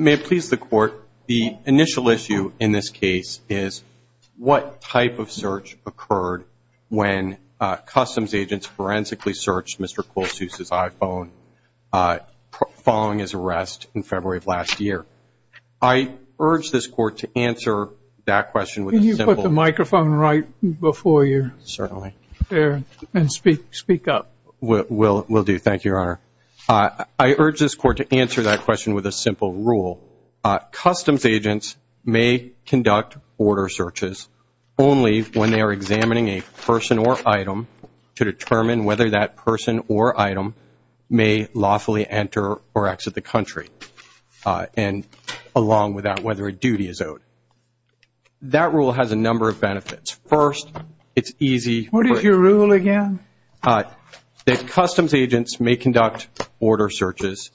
May it please the Court, the initial issue in this case is what type of search occurred when customs agents forensically searched Mr. Kolsuz's iPhone following his arrest in answer that question with a simple rule. Customs agents may conduct order searches only when they are examining a person or item to determine whether that person or item may lawfully enter or exit the country and along with that whether a duty is owed. That rule has a number of benefits. First, it's easy. What is your rule again? Customs agents may conduct order searches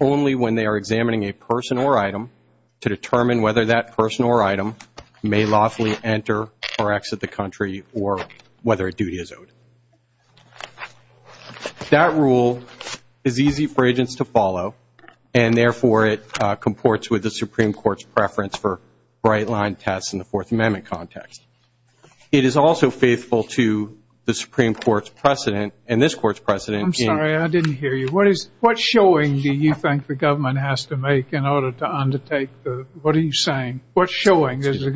only when they are examining a person or item to determine whether that person or item may lawfully enter or exit the country or whether a duty is owed. That rule is easy for agents to follow and therefore it comports with the Supreme Court's preference for bright line tests in the Fourth Amendment context. It is also faithful to the Supreme Court's precedent and this Court's precedent. I'm sorry, I didn't hear you. What is what showing do you think the government has to make in order to undertake, what are you saying, what showing does the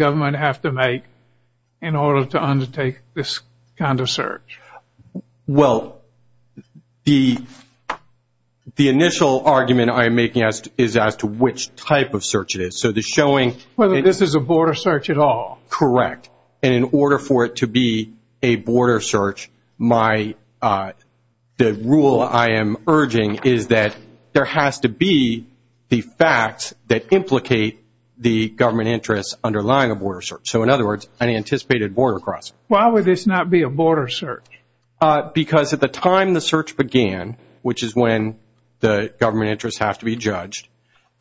argument I am making is as to which type of search it is. So the showing, whether this is a border search at all. Correct. In order for it to be a border search, my, the rule I am urging is that there has to be the facts that implicate the government interests underlying a border search. So in other words, an anticipated border cross. Why would this not be a border search? Because at the time the search began, which is when the government interests have to be judged,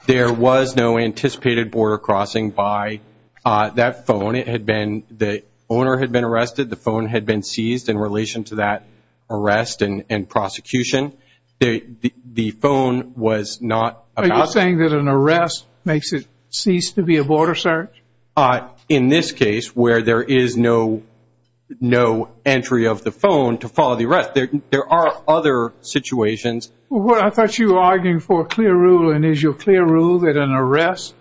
there was no anticipated border crossing by that phone. It had been, the owner had been arrested. The phone had been seized in relation to that arrest and prosecution. The phone was not. Are you saying that an arrest makes it cease to be a border search? In this case, where there is no entry of the phone to cross a border, there are other situations. Well, I thought you were arguing for a clear rule and is your clear rule that an arrest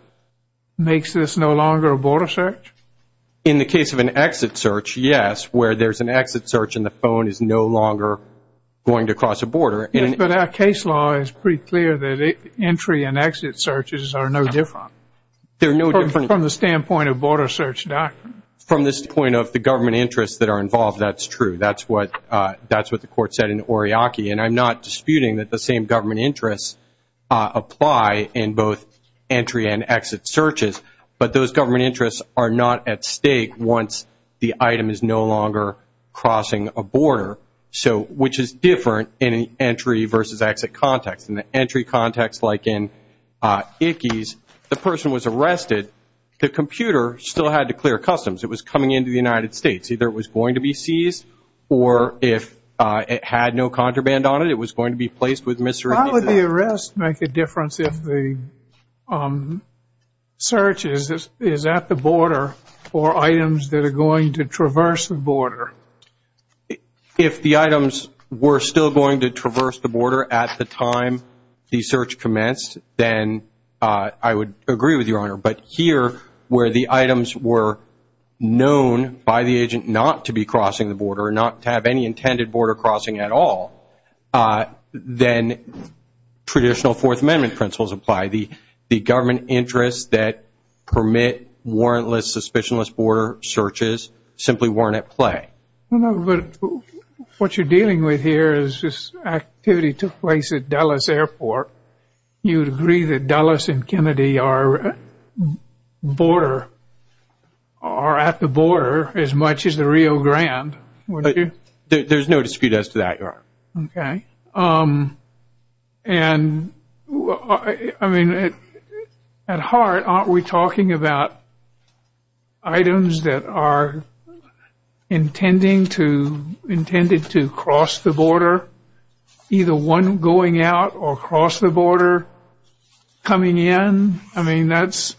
makes this no longer a border search? In the case of an exit search, yes, where there is an exit search and the phone is no longer going to cross a border. But our case law is pretty clear that entry and exit searches are no different. They are no different. From the standpoint of border search documents. From the standpoint of the government interests that are involved, that is true. That is what the court said in Oriaki. And I'm not disputing that the same government interests apply in both entry and exit searches. But those government interests are not at stake once the item is no longer crossing a border. So, which is different in an entry versus exit context. In the entry context, like in Ickes, the person was arrested. The computer still had to clear customs. It was coming into the United States. Either it was going to be seized or if it had no contraband on it, it was going to be placed with mystery. How would the arrest make a difference if the search is at the border for items that are going to traverse the border? If the items were still going to traverse the border at the time the search commenced, then I would agree with your point. But here, where the items were known by the agent not to be crossing the border, not to have any intended border crossing at all, then traditional Fourth Amendment principles apply. The government interests that permit warrantless, suspicionless border searches simply weren't at play. What you're dealing with here is this activity took place at Dulles Airport. You border are at the border as much as the Rio Grande. There's no dispute as to that. At heart, aren't we talking about items that are intended to cross the border? Either one going out or crossing the border, coming in. That's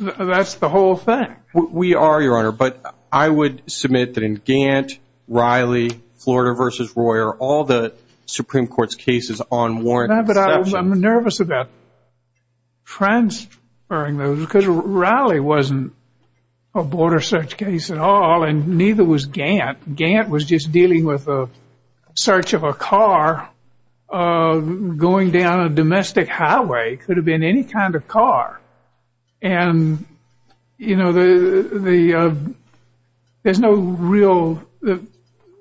the whole thing. We are, Your Honor. But I would submit that in Gant, Riley, Florida v. Royer, all the Supreme Court's cases on warrant... I'm nervous about transferring those because Riley wasn't a border search case at all and neither was Gant. Gant was dealing with a search of a car going down a domestic highway. It could have been any kind of car.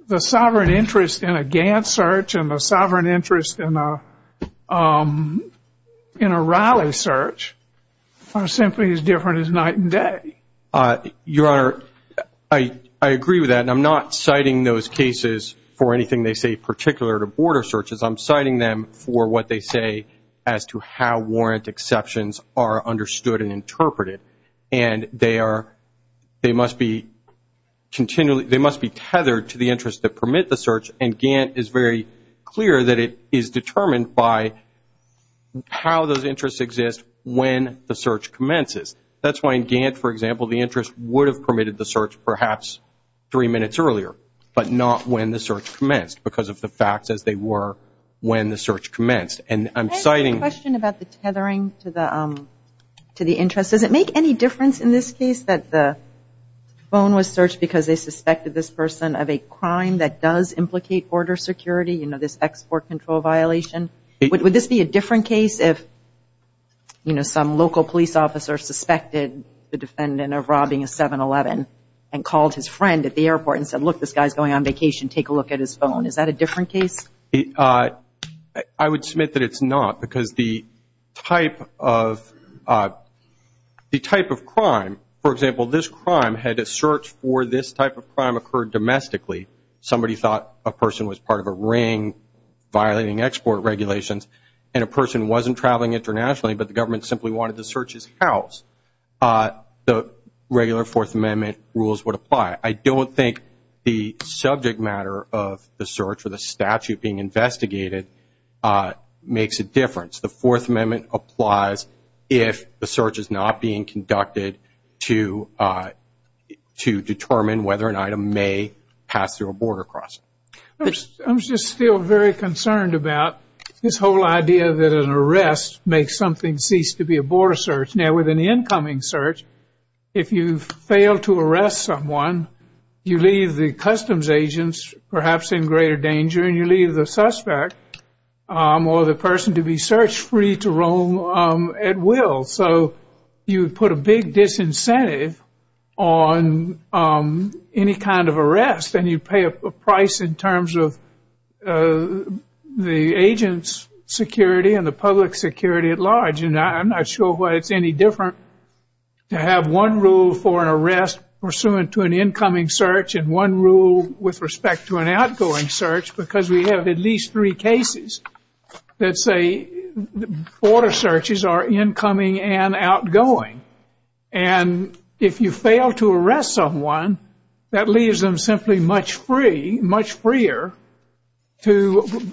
The sovereign interest in a Gant search and the sovereign interest in a Riley search are simply as different as night and day. Your Honor, I agree with that. I'm not citing those cases for anything they say particular to border searches. I'm citing them for what they say as to how warrant exceptions are understood and interpreted. And they must be tethered to the interests that permit the search. And Gant is very clear that it is determined by how those interests exist when the search commences. That's why in Gant, for example, the interest would have permitted the search perhaps three minutes earlier, but not when the search commenced because of the fact that they were when the search commenced. And I'm citing... I have a question about the tethering to the interest. Does it make any difference in this case that the phone was searched because they suspected this person of a crime that does implicate border security, you know, this export control violation? Would this be a different case if, you know, some local police officer suspected the defendant of robbing a 7-Eleven and called his friend at the airport and said, look, this guy's going on vacation, take a look at his phone. Is that a different case? I would submit that it's not because the type of crime, for example, this crime had a search for this type of crime occurred domestically. Somebody thought a person was part of a ring violating export regulations and a person wasn't traveling internationally, but the government simply wanted to search his house. The regular Fourth Amendment rules would apply. I don't think the subject matter of the search or the statute being investigated makes a difference. The Fourth Amendment applies if the search is not being border crossed. I'm just still very concerned about this whole idea that an arrest makes something cease to be a border search. Now, with an incoming search, if you fail to arrest someone, you leave the customs agents perhaps in greater danger and you leave the suspect or the person to be search-free to roam at will. So you put a big disincentive on any kind of arrest and you pay a price in terms of the agent's security and the public security at large. I'm not sure why it's any different to have one rule for an arrest pursuant to an incoming search and one rule with respect to an outgoing search because we have at least three cases that say border searches are incoming and outgoing. And if you fail to arrest someone, that leaves them simply much freer to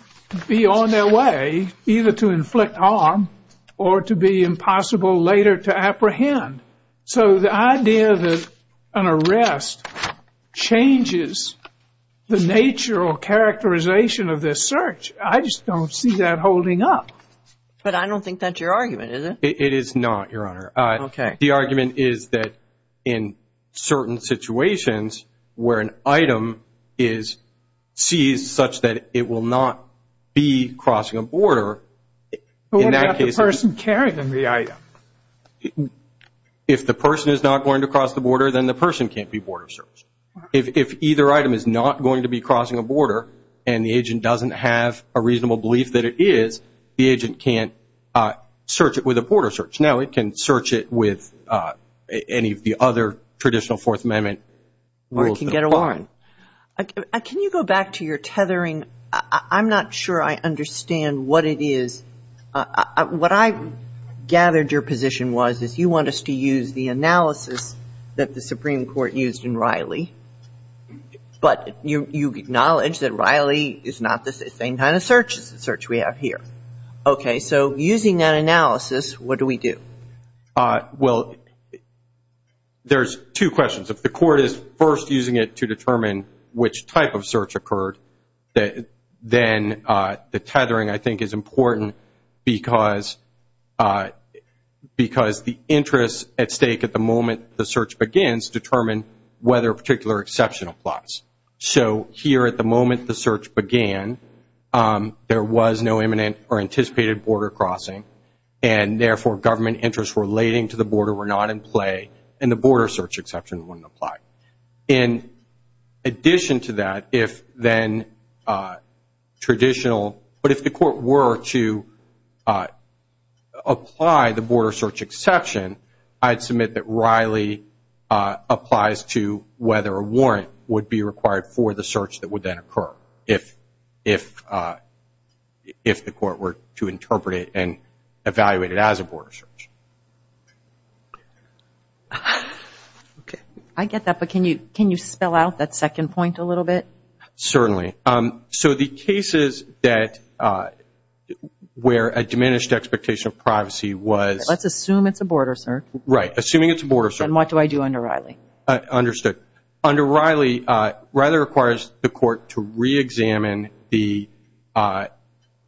be on their way either to inflict harm or to be impossible later to apprehend. So the idea that an arrest changes the nature or characterization of this search, I just don't see that holding up. But I don't think that's your argument, is it? It is not, Your Honor. Okay. The argument is that in certain situations where an item is seized such that it will not be crossing a border, in that case... But what if the person carried the item? If the person is not going to cross the border, then the person can't be border searched. If either item is not going to be crossing a border and the agent doesn't have a reasonable belief that it is, the agent can't search it with a border search. No, it can search it with any of the other traditional Fourth Amendment rules. Or it can get a warrant. Can you go back to your tethering? I'm not sure I understand what it is. What I gathered your position was is you want us to use the analysis that the Supreme Court used in Riley. But you acknowledge that Riley is not the same kind of search we have here. Okay. So using that analysis, what do we do? Well, there's two questions. If the court is first using it to determine which type of search occurred, then the tethering, I think, is important because the interest at stake at the moment the search begins determine whether a particular exception applies. So here at the moment the search began, there was no imminent or anticipated border crossing. And therefore, government interests relating to the border were not in play and the border search exception wouldn't apply. In addition to that, if then traditional, but if the court were to apply the border search exception, I'd submit that Riley applies to whether a warrant would be required for the search that would then occur if the court were to interpret it and I get that. But can you spell out that second point a little bit? Certainly. So the cases that where a diminished expectation of privacy was... Let's assume it's a border search. Right. Assuming it's a border search. And what do I do under Riley? Understood. Under Riley, Riley requires the court to re-examine the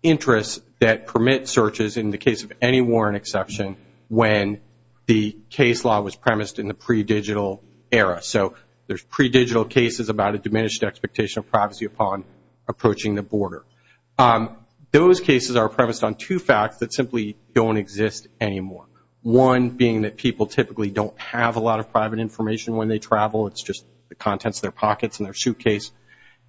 interests that permit searches in the case of any warrant exception when the case law was premised in the pre-digital era. So there's pre-digital cases about a diminished expectation of privacy upon approaching the border. Those cases are premised on two facts that simply don't exist anymore. One being that people typically don't have a lot of private information when they travel. It's just the contents of their pockets and their suitcase.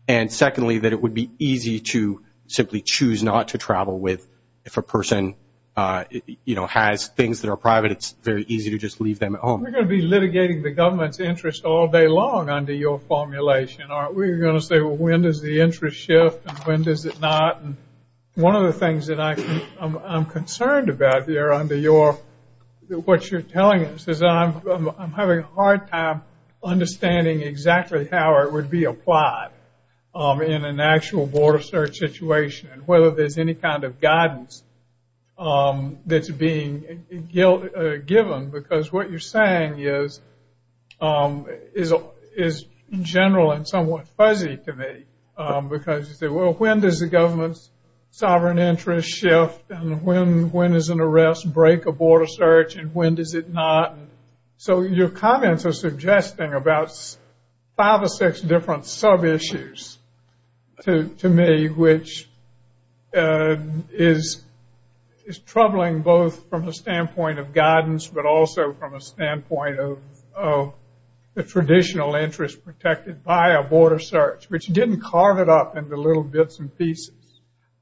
And secondly, that it would be easy to simply choose not to travel with if a person has things that are private, it's very easy to just leave them at home. We're going to be litigating the government's interest all day long under your formulation. We're going to say, well, when does the interest shift and when does it not? One of the things that I'm concerned about here under what you're telling us is that I'm having a hard time understanding exactly how it would be applied in an actual border search situation and whether there's any kind of guidance that's being given. Because what you're saying is general and somewhat fuzzy to me because you say, well, when does the government's sovereign interest shift and when does an arrest break a border search and when does it not? So your comments are suggesting about five or six different sub-issues to me, which is troubling both from the standpoint of guidance but also from a standpoint of the traditional interest protected by a border search, which didn't carve it up into little bits and pieces.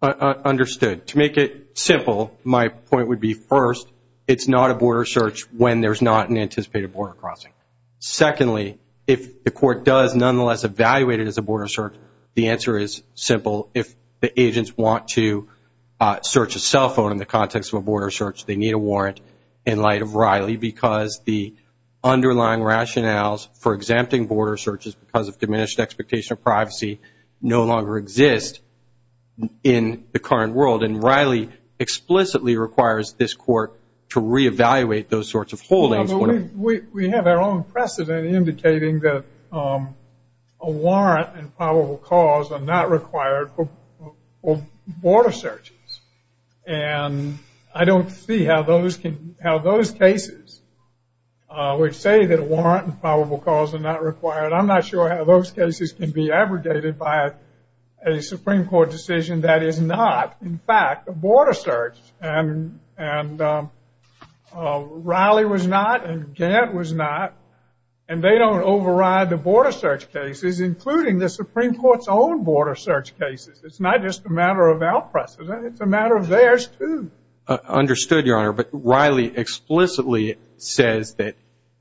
Understood. To make it simple, my point would be first, it's not a border search when there's not an anticipated border crossing. Secondly, if the court does nonetheless evaluate it as a border search, the answer is simple. If the agents want to search a cell phone in the context of a border search, they need a warrant in light of Riley because the underlying rationales for exempting border searches because of diminished expectation of privacy no longer exist in the current world. Riley explicitly requires this court to reevaluate those sorts of holdings. We have our own precedent indicating that a warrant and probable cause are not required for border searches. I don't see how those cases would say that a warrant and probable cause are not required. I'm not sure how those cases can be abrogated by a Supreme Court decision that is not. In fact, a border search and Riley was not and Gantt was not, and they don't override the border search cases, including the Supreme Court's own border search cases. It's not just a matter of our precedent. It's a matter of theirs too. Understood, Your Honor, but Riley explicitly says that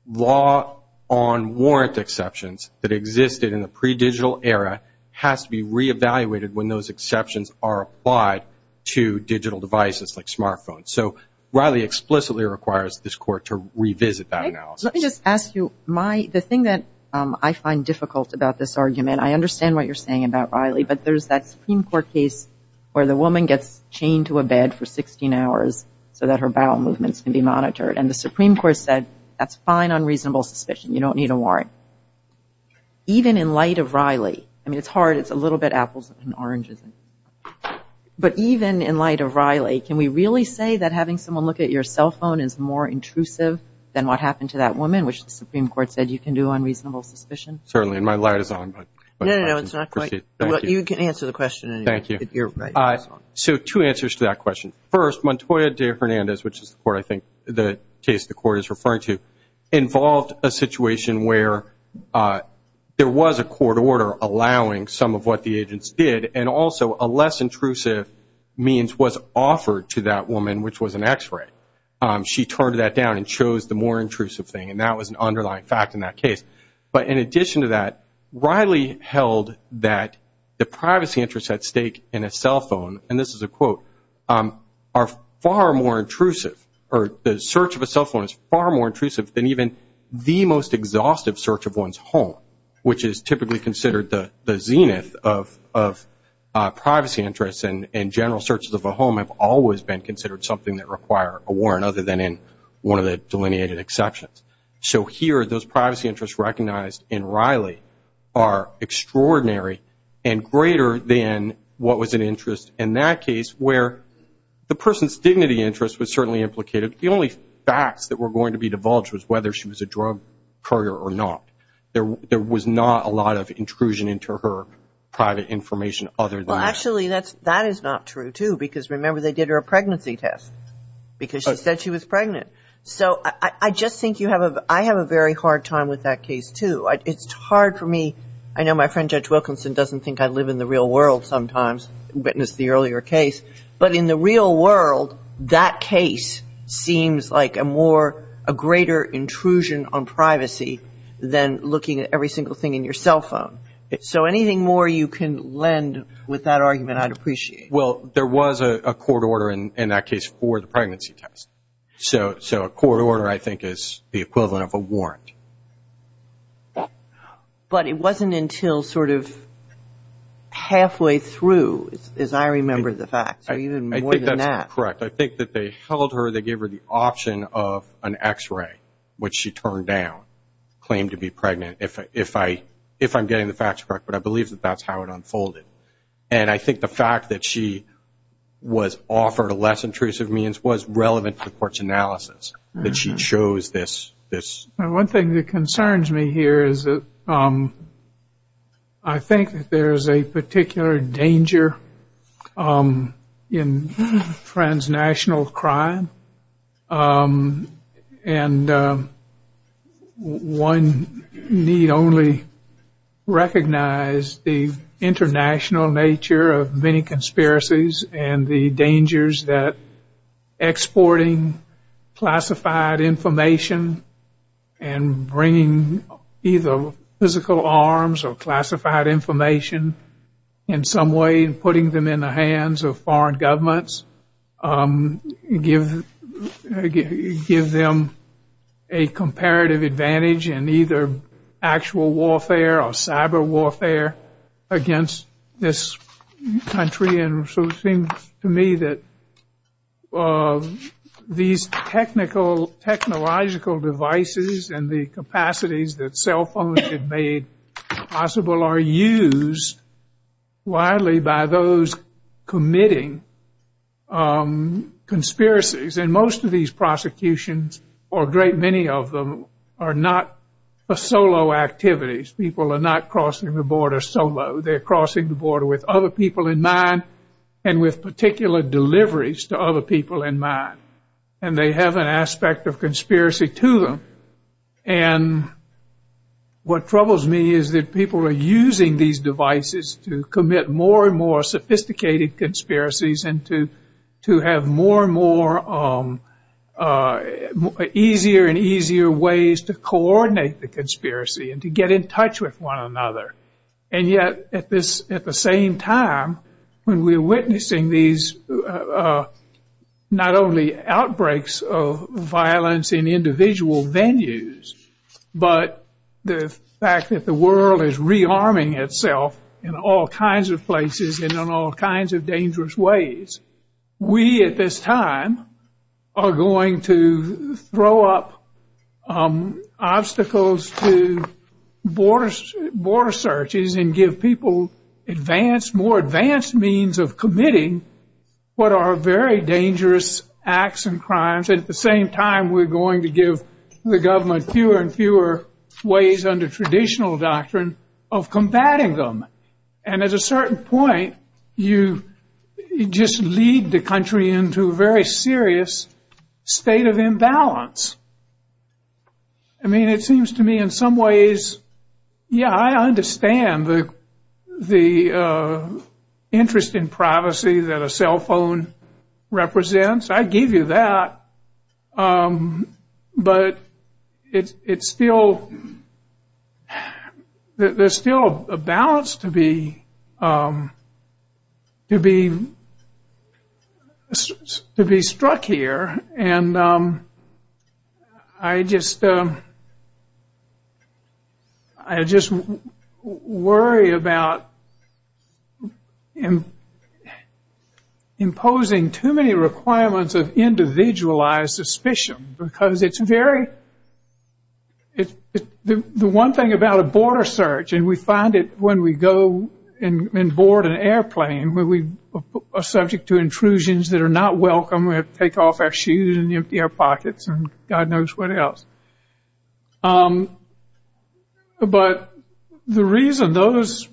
law on warrant exceptions that existed in the pre-digital era has to be reevaluated when those exceptions are applied to digital devices like smartphones. So Riley explicitly requires this court to revisit that analysis. Let me just ask you, the thing that I find difficult about this argument, I understand what you're saying about Riley, but there's that Supreme Court case where the woman gets chained to a bed for 16 hours so that her bowel movements can be monitored. And the Supreme Court said, that's fine on reasonable suspicion. You don't need a warrant. Even in light of Riley, I mean, it's hard. It's a little bit apples and oranges, but even in light of Riley, can we really say that having someone look at your cell phone is more intrusive than what happened to that woman, which the Supreme Court said you can do on reasonable suspicion? Certainly, my light is on, but you can answer the question. Thank you. So two answers to that question. First, Montoya de Fernandez, which is where I think the case the court is referring to where there was a court order allowing some of what the agents did, and also a less intrusive means was offered to that woman, which was an x-ray. She turned that down and chose the more intrusive thing, and that was an underlying fact in that case. But in addition to that, Riley held that the privacy interests at stake in a cell phone, and this is a quote, are far more intrusive, or the search of a cell phone is far more intrusive than the search of one's home, which is typically considered the zenith of privacy interests, and general searches of a home have always been considered something that require a warrant other than in one of the delineated exceptions. So here, those privacy interests recognized in Riley are extraordinary and greater than what was an interest in that case where the person's dignity interest was certainly implicated. The only facts that were going to be divulged was whether she was a drug courier or not. There was not a lot of intrusion into her private information other than that. Well, actually, that is not true, too, because remember, they did her a pregnancy test because she said she was pregnant. So I just think you have a, I have a very hard time with that case, too. It's hard for me. I know my friend Judge Wilkinson doesn't think I live in the real world sometimes, witnessed the earlier case, but in the real world, that case seems like a more, a greater intrusion on privacy than looking at every single thing in your cell phone. So anything more you can lend with that argument, I'd appreciate. Well, there was a court order in that case for the pregnancy test. So a court order, I think, is the equivalent of a warrant. But it wasn't until sort of halfway through, as I remember the facts, or even more than that. Correct. I think that they held her, they gave her the option of an x-ray, which she turned down, claimed to be pregnant, if I'm getting the facts correct. But I believe that that's how it unfolded. And I think the fact that she was offered a less intrusive means was relevant to the court's analysis that she chose this. One thing that concerns me here is that I think that there is a particular danger in transnational crime. And one need only recognize the international nature of many conspiracies and the dangers that exporting classified information and bringing either physical arms or classified information in some way, putting them in the hands of foreign governments, give them a comparative advantage in either actual warfare or cyber warfare against this country. And so it seems to me that these technological devices and the capacities that cell phones have made possible are used widely by those committing conspiracies. And most of these prosecutions, or a great many of them, are not solo activities. People are not crossing the border solo. They're crossing the border with other people in mind and with particular deliveries to other people in mind. And they have an aspect of conspiracy to them. And what troubles me is that people are using these devices to commit more and more sophisticated conspiracies and to have more and more easier and easier ways to coordinate the conspiracy and to get in touch with one another. And yet, at the same time, when we're witnessing these not only outbreaks of violence in individual venues, but the fact that the world is rearming itself in all kinds of places and in all kinds of dangerous ways, we, at this time, are going to throw up obstacles to border searches and give people more advanced means of committing what are very dangerous acts and crimes. At the same time, we're going to give the government fewer and fewer ways under traditional doctrine of combating them. And at a certain point, you just lead the country into a very serious state of imbalance. I mean, it seems to me, in some ways, yeah, I understand the interest in privacy that a cell phone represents. I give you that. But there's still a balance to be struck here. And I just worry about imposing too many requirements of individualized suspicion because it's very – the one thing about a border search, and we find it when we go and board an airplane, we are subject to intrusions that are not welcome. We have to take off our shoes and empty our pockets and God knows what else. But the reason those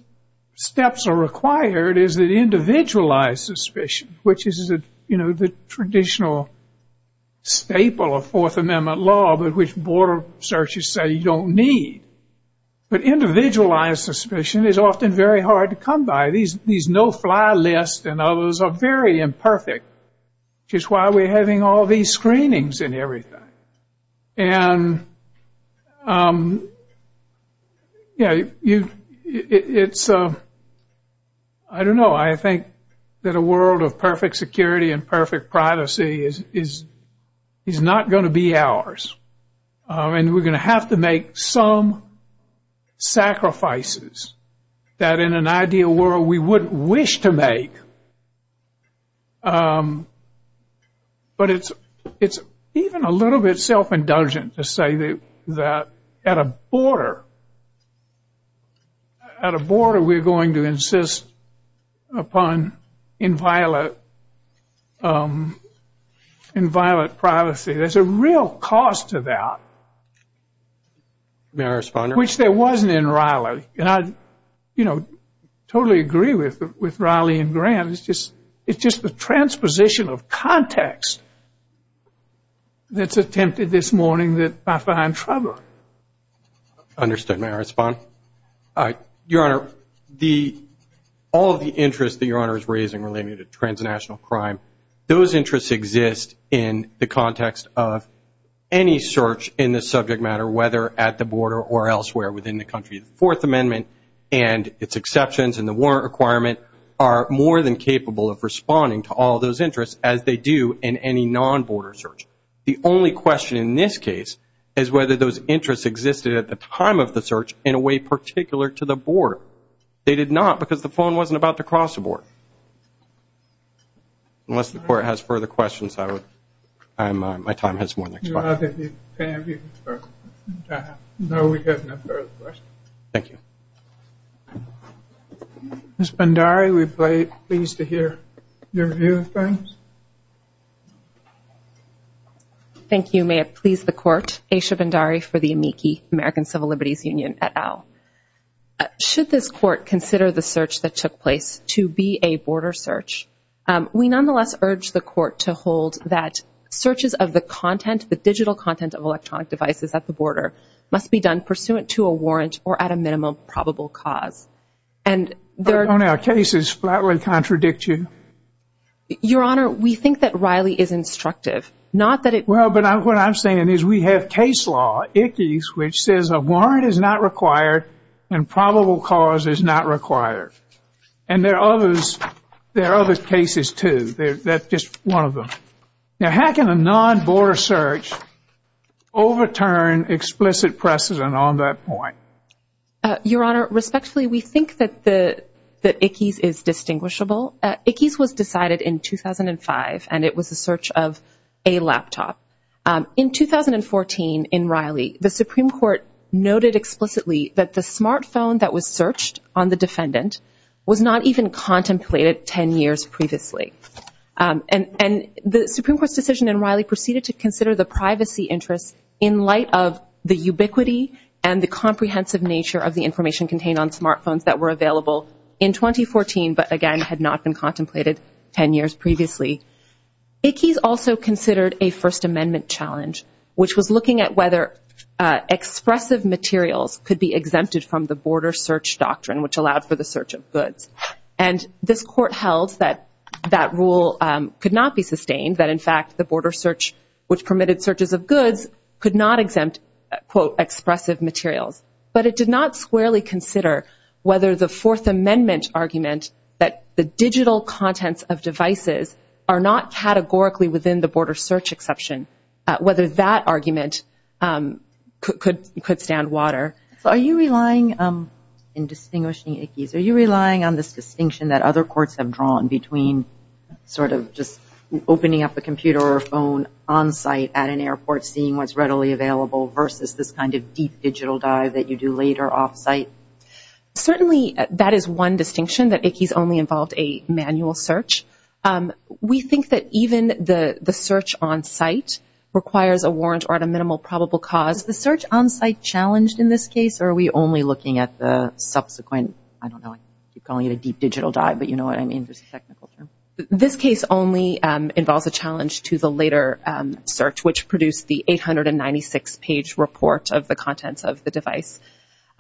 steps are required is that individualized suspicion, which is the traditional staple of Fourth Amendment law, but which border searches say you don't need. But individualized suspicion is often very hard to come by. These no-fly lists and others are very imperfect, which is why we're having all these screenings and everything. And, yeah, it's – I don't know. I think that a world of perfect security and perfect privacy is not going to be ours. And we're going to have to make some sacrifices that in an ideal world we wouldn't wish to make. But it's even a little bit self-indulgent to say that at a border we're going to insist upon inviolate privacy. There's a real cost to that, which there wasn't in Raleigh. And I totally agree with Raleigh and Grant. It's just the transposition of context that's attempted this morning that I find troubling. Understood. May I respond? Your Honor, all the interests that Your Honor is raising relating to transnational crime, those interests exist in the context of any search in the subject matter, whether at the border or elsewhere within the country. The Fourth Amendment and its exceptions and the warrant requirement are more than capable of responding to all those interests as they do in any non-border search. The only question in this case is whether those interests existed at the time of the search in a way particular to the board. Unless the Court has further questions, my time has run out. Your Honor, we have no further questions. Thank you. Ms. Bhandari, we're pleased to hear your view, please. Thank you. May it please the Court, Aisha Bhandari for the AMICI, American Civil Liberties Union, et al. Should this Court consider the search that took place to be a border search? We nonetheless urge the Court to hold that searches of the content, the digital content of electronic devices at the border, must be done pursuant to a warrant or at a minimum probable cause. But on our cases, that would contradict you. Your Honor, we think that Riley is instructive, not that it— Well, but what I'm saying is we have case law, ICCE, which says a warrant is not required and probable cause is not required. And there are other cases, too. That's just one of them. Now, how can a non-border search overturn explicit precedent on that point? Your Honor, respectfully, we think that ICCE is distinguishable. ICCE was decided in 2005, and it was a search of a laptop. In 2014, in Riley, the Supreme Court noted explicitly that the smartphone that was searched on the defendant was not even contemplated 10 years previously. And the Supreme Court's decision in Riley proceeded to consider the privacy interest in light of the ubiquity and the comprehensive nature of the information contained on smartphones that were available in 2014 but, again, had not been contemplated 10 years previously. ICCE also considered a First Amendment challenge, which was looking at whether expressive materials could be exempted from the border search doctrine, which allowed for the search of goods. And this Court held that that rule could not be sustained, that, in fact, the border search, which permitted searches of goods, could not exempt, quote, expressive materials. But it did not squarely consider whether the Fourth Amendment argument that the digital contents of devices are not categorically within the border search exception, whether that argument could stand water. Are you relying, in distinguishing ICCE, are you relying on this distinction that other courts have drawn between sort of just opening up a computer or phone on-site at an airport, seeing what's readily available, versus this kind of deep digital dive that you do later off-site? Certainly, that is one distinction, that ICCE's only involved a manual search. We think that even the search on-site requires a warrant or a minimal probable cause. The search on-site challenge in this case, are we only looking at the subsequent, I don't know, I keep calling it a deep digital dive, but you know what I mean, this is technical. This case only involves a challenge to the later search, which produced the 896-page report of the contents of the device.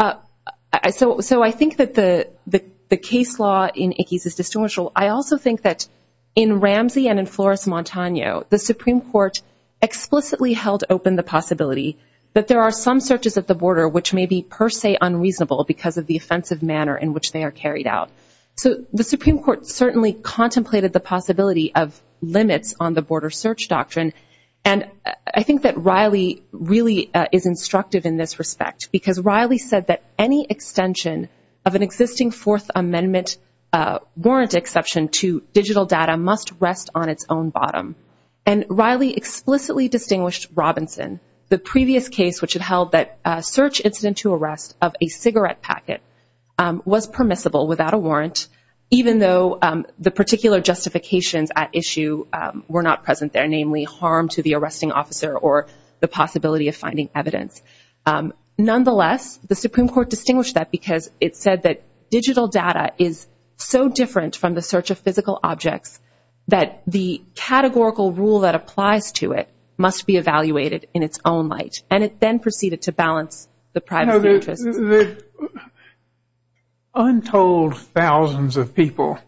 So I think that the case law in ICCE is distinguishable. I also think that in Ramsey and in Flores-Montano, the Supreme Court explicitly held open the possibility that there are some searches at the border which may be per se unreasonable because of the offensive manner in which they are carried out. So the Supreme Court certainly contemplated the possibility of limits on the border search doctrine, and I think that Riley really is instructive in this respect, because Riley said that any extension of an existing Fourth Amendment warrant exception to digital data must rest on its own bottom, and Riley explicitly distinguished Robinson, the previous case which had held that a search incident to arrest of a cigarette packet was permissible without a warrant, even though the particular justifications at issue were not present there, namely harm to the arresting officer or the possibility of finding evidence. Nonetheless, the Supreme Court distinguished that because it said that digital data is so different from the search of physical objects that the categorical rule that applies to it must be evaluated in its own light. And it then proceeded to balance the private interest. No, the untold thousands of people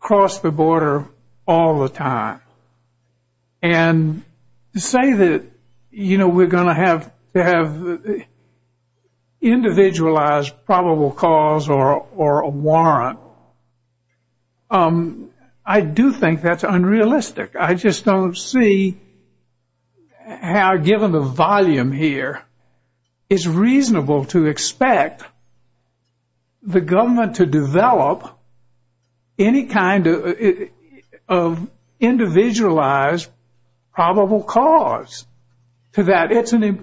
cross the border all the time and say that, you know, we're going to have individualized probable cause or a warrant. I do think that's unrealistic. I just don't see how, given the volume here, it's reasonable to expect the government to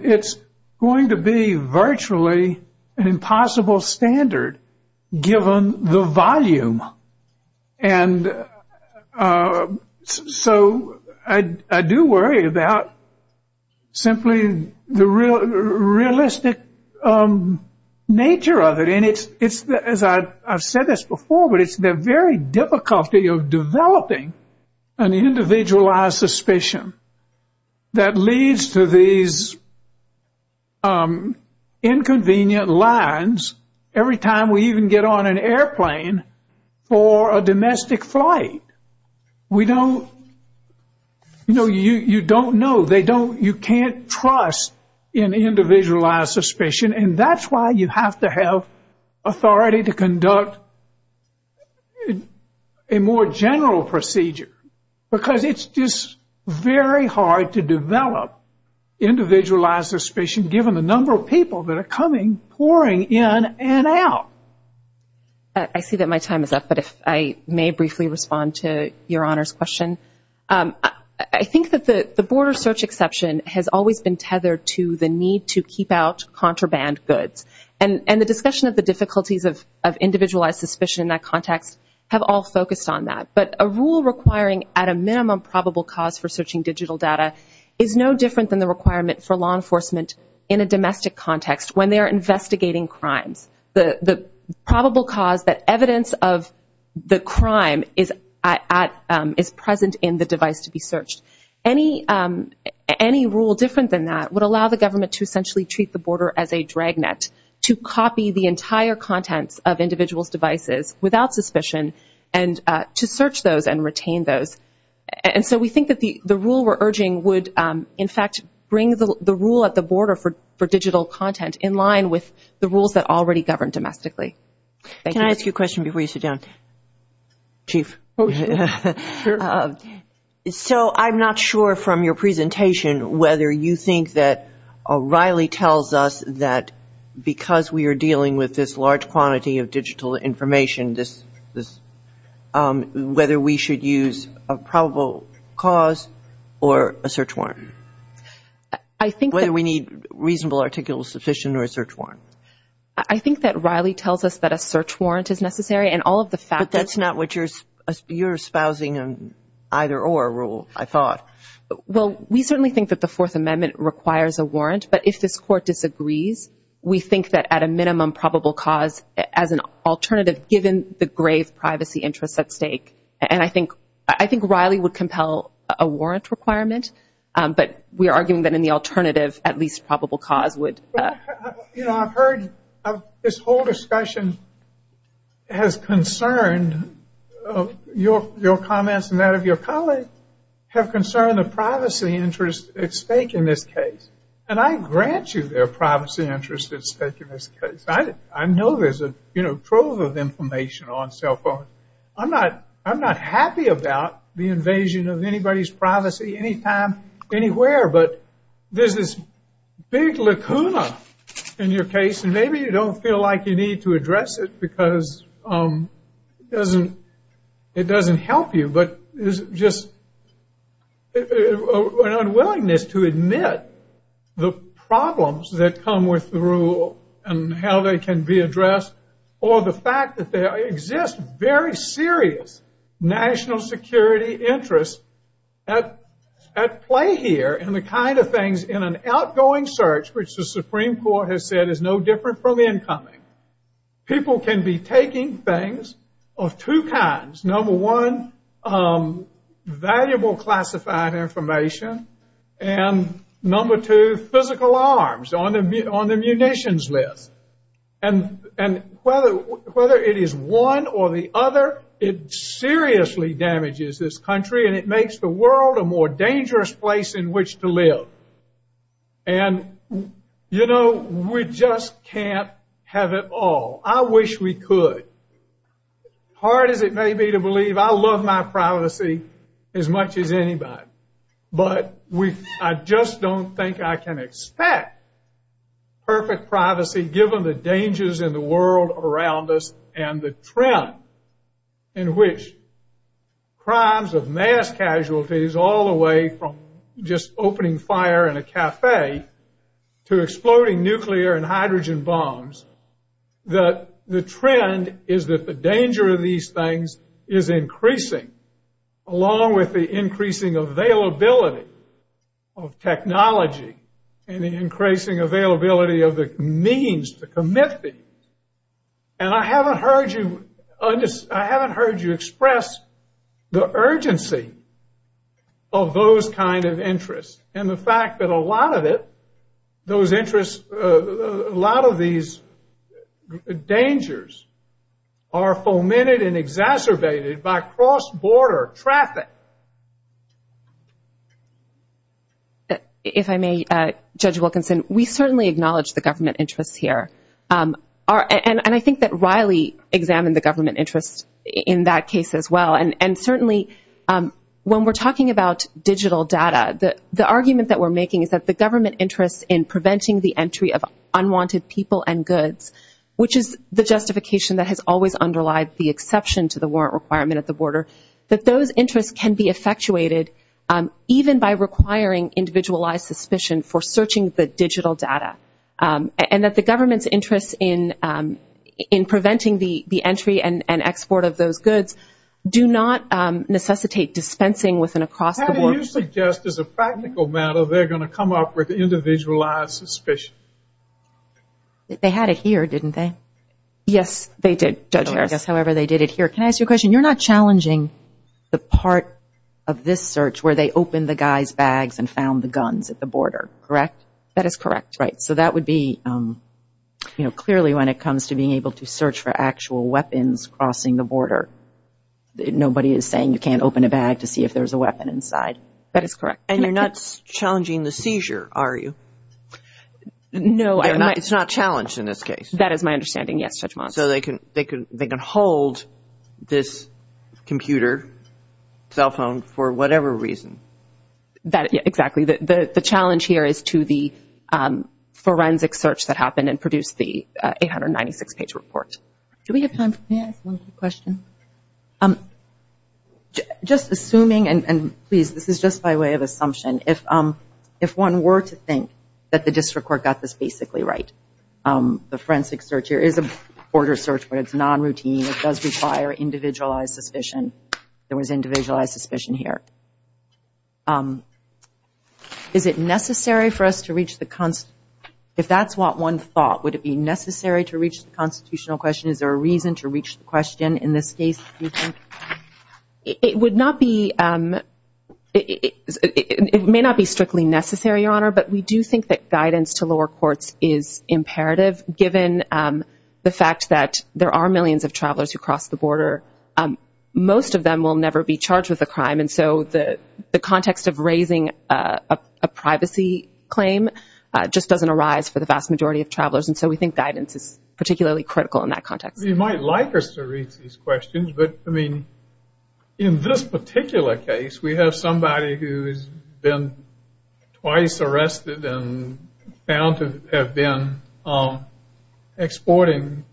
it's going to be virtually an impossible standard, given the volume. And so I do worry about simply the realistic nature of it. And it's, as I've said this before, but it's the very difficulty of developing an individualized suspicion that leads to these inconvenient lines every time we even get on an airplane for a domestic flight. We don't, you know, you don't know. They don't, you can't trust an individualized suspicion. And that's why you have to have authority to conduct a more general procedure, because it's just very hard to develop individualized suspicion, given the number of people that are coming, pouring in and out. I see that my time is up, but if I may briefly respond to Your Honor's question. I think that the border search exception has always been tethered to the need to keep out contraband goods. And the discussion of the difficulties of individualized suspicion in that context have all focused on that. But a rule requiring at a minimum probable cause for searching digital data is no different than the requirement for law enforcement in a domestic context, when they're investigating crime. The probable cause, the evidence of the crime is present in the device to be searched. Any rule different than that would allow the government to essentially treat the border as a dragnet to copy the entire contents of individual devices without suspicion, and to search those and retain those. And so we think that the rule we're urging would, in fact, bring the rule at the border for digital content in line with the rules that already govern domestically. Can I ask you a question before you sit down, Chief? Oh, sure. So I'm not sure from your presentation whether you think that Riley tells us that because we are dealing with this large quantity of digital information, whether we should use a probable cause or a search warrant. I think that... Whether we need reasonable articles of suspicion or a search warrant. I think that Riley tells us that a search warrant is necessary, and all of the factors... That's not what you're espousing in either or rules, I thought. Well, we certainly think that the Fourth Amendment requires a warrant, but if this court disagrees, we think that at a minimum, probable cause as an alternative, given the grave privacy interests at stake. And I think Riley would compel a warrant requirement, but we are arguing that in the alternative, at least probable cause would... You know, I've heard this whole discussion has concerned your comments and that of your colleagues, have concerned the privacy interests at stake in this case. And I grant you there are privacy interests at stake in this case. I know there's a trove of information on cell phones. I'm not happy about the invasion of anybody's privacy anytime, anywhere, but there's this big lacuna in your case, and maybe you don't feel like you need to address it because it doesn't help you, but there's just an unwillingness to admit the problems that come with the rule and how they can be addressed, or the fact that there exists very serious national security interests at play here and the kind of things in an outgoing search, which the Supreme Court has said is no different from the incoming. People can be taking things of two kinds. Number one, valuable classified information, and number two, physical arms on the munitions list. And whether it is one or the other, it seriously damages this country, and it makes the world a more dangerous place in which to live. And, you know, we just can't have it all. I wish we could. Hard as it may be to believe, I love my privacy as much as anybody, but I just don't think I can expect perfect privacy, given the dangers in the world around us and the trend in which crimes of mass casualties, all the way from just opening fire in a cafe to exploding nuclear and hydrogen bombs, that the trend is that the danger of these things is increasing, along with the increasing availability of technology and the increasing availability of the means to commit these. And I haven't heard you express the urgency of those kind of interests, and the fact that a lot of it, those interests, a lot of these dangers are fomented and exacerbated by cross-border traffic. If I may, Judge Wilkinson, we certainly acknowledge the government interests here. And I think that Riley examined the government interests in that case as well. And certainly, when we're talking about digital data, the argument that we're making is that the government interest in preventing the entry of unwanted people and goods, which is the justification that has always underlied the exception to the warrant requirement at the border, that those interests can be effectuated even by requiring individualized suspicion for searching the digital data. And that the government's interest in preventing the entry and export of those goods do not necessitate dispensing with an across-the-board... How do you suggest, as a practical matter, they're going to come up with individualized suspicion? They had it here, didn't they? Yes, they did, Judge Harris. However, they did it here. Can I ask you a question? You're not challenging the part of this search where they opened the guy's bags and found the guns at the border, correct? That is correct, right. That would be clearly when it comes to being able to search for actual weapons crossing the border. Nobody is saying you can't open a bag to see if there's a weapon inside. That is correct. And you're not challenging the seizure, are you? No, I'm not. It's not challenged in this case? That is my understanding, yes, Judge Monson. So they can hold this computer, cell phone, for whatever reason? That, exactly. The challenge here is to the forensic search that happened and produced the 896-page report. Do we have time for one more question? Just assuming, and please, this is just by way of assumption. If one were to think that the district court got this basically right, the forensic search here is a border search, but it's non-routine. It does require individualized suspicion. There was individualized suspicion here. Is it necessary for us to reach the... If that's what one thought, would it be necessary to reach the constitutional question? Is there a reason to reach the question in this case? It would not be... It may not be strictly necessary, Your Honor, but we do think that guidance to lower courts is imperative, given the fact that there are millions of travelers who cross the border. Most of them will never be charged with a crime. The context of raising a privacy claim just doesn't arise for the vast majority of travelers. We think guidance is particularly critical in that context. You might like us to reach these questions, but in this particular case, we have somebody who has been twice arrested and found to have been exporting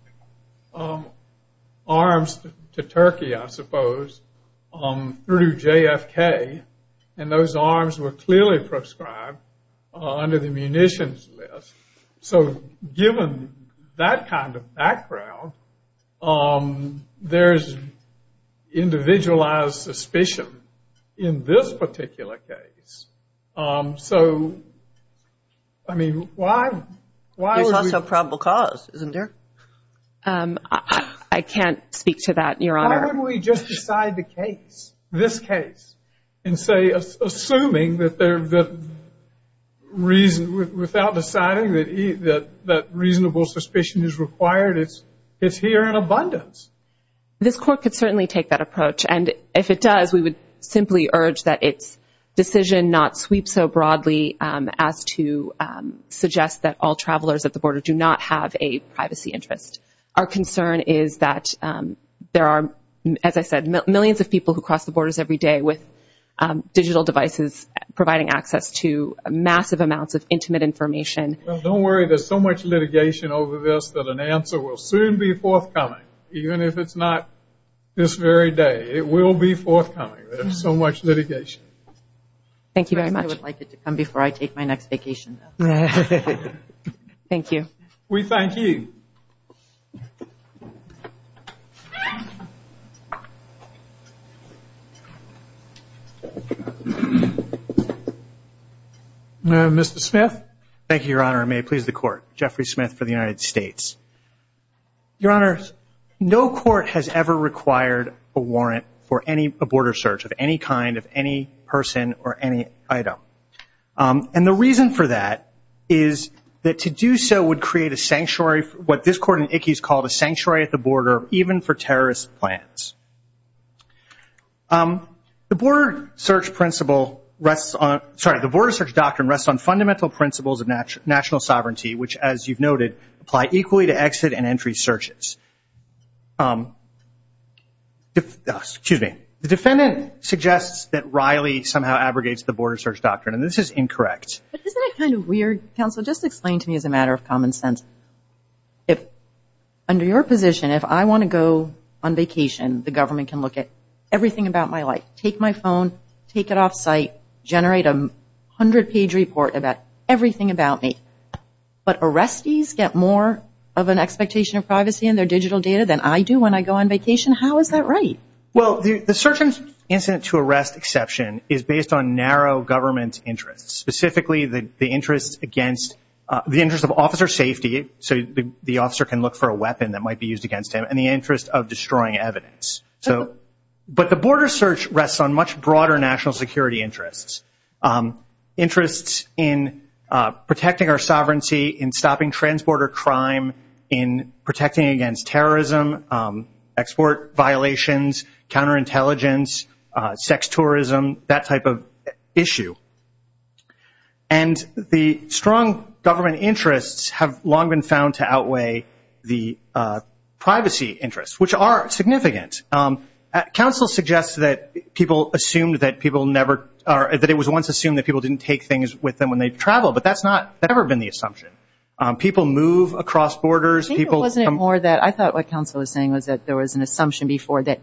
arms to Turkey, I suppose, through JFK. And those arms were clearly prescribed under the munitions list. So given that kind of background, there's individualized suspicion in this particular case. So, I mean, why would we... I can't speak to that, Your Honor. Why don't we just decide the case, this case, and say, assuming that there's a reason, without deciding that reasonable suspicion is required, it's here in abundance. This court could certainly take that approach. And if it does, we would simply urge that its decision not sweep so broadly as to privacy interest. Our concern is that there are, as I said, millions of people who cross the borders every day with digital devices providing access to massive amounts of intimate information. Don't worry. There's so much litigation over this that an answer will soon be forthcoming, even if it's not this very day. It will be forthcoming. There's so much litigation. Thank you very much. I would like it to come before I take my next vacation. Thank you. We thank you. Mr. Smith. Thank you, Your Honor. May it please the court. Jeffrey Smith for the United States. Your Honor, no court has ever required a warrant for a border search of any kind of any person or any item. And the reason for that is that to do so would create a sanctuary, what this court in Ickes called a sanctuary at the border, even for terrorist plans. The border search principle rests on, sorry, the border search doctrine rests on fundamental principles of national sovereignty, which, as you've noted, apply equally to exit and entry searches. Excuse me. The defendant suggests that Riley somehow abrogates the border search doctrine, and this is incorrect. Isn't that kind of weird, counsel? Just explain to me as a matter of common sense. If under your position, if I want to go on vacation, the government can look at everything about my life, take my phone, take it off site, generate a hundred page report about everything about me. But arrestees get more of an expectation of privacy in their digital data than I do when I go on vacation. How is that right? Well, the search and incident to arrest exception is based on narrow government interest, specifically the interest against the interest of officer safety. So the officer can look for a weapon that might be used against him in the interest of destroying evidence. But the border search rests on much broader national security interests, interests in protecting our sovereignty, in stopping transborder crime, in protecting against terrorism, export violations, counterintelligence, sex tourism, that type of issue. And the strong government interests have long been found to outweigh the privacy interests, which are significant. Council suggests that people assumed that people never are, that it was once assumed that people didn't take things with them when they travel. But that's not ever been the assumption. People move across borders. I think it was more that I thought what Council was saying was that there was an assumption before that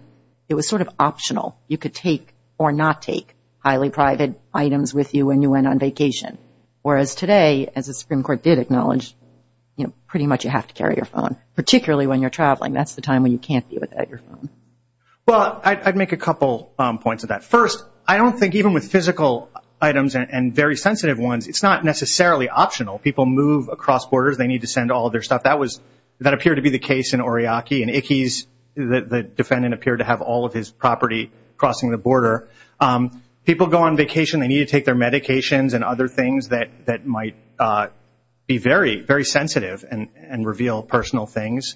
it was sort of optional. You could take or not take highly private items with you when you went on vacation. Whereas today, as the Supreme Court did acknowledge, you know, pretty much you have to carry your phone, particularly when you're traveling. That's the time when you can't do it at your phone. Well, I'd make a couple points of that. First, I don't think even with physical items and very sensitive ones, it's not necessarily optional. People move across borders. They need to send all their stuff. That was, that appeared to be the case in Oryaki. And Ickes, the defendant appeared to have all of his property crossing the border. People go on vacation, they need to take their medications and other things that might be very, very sensitive and reveal personal things.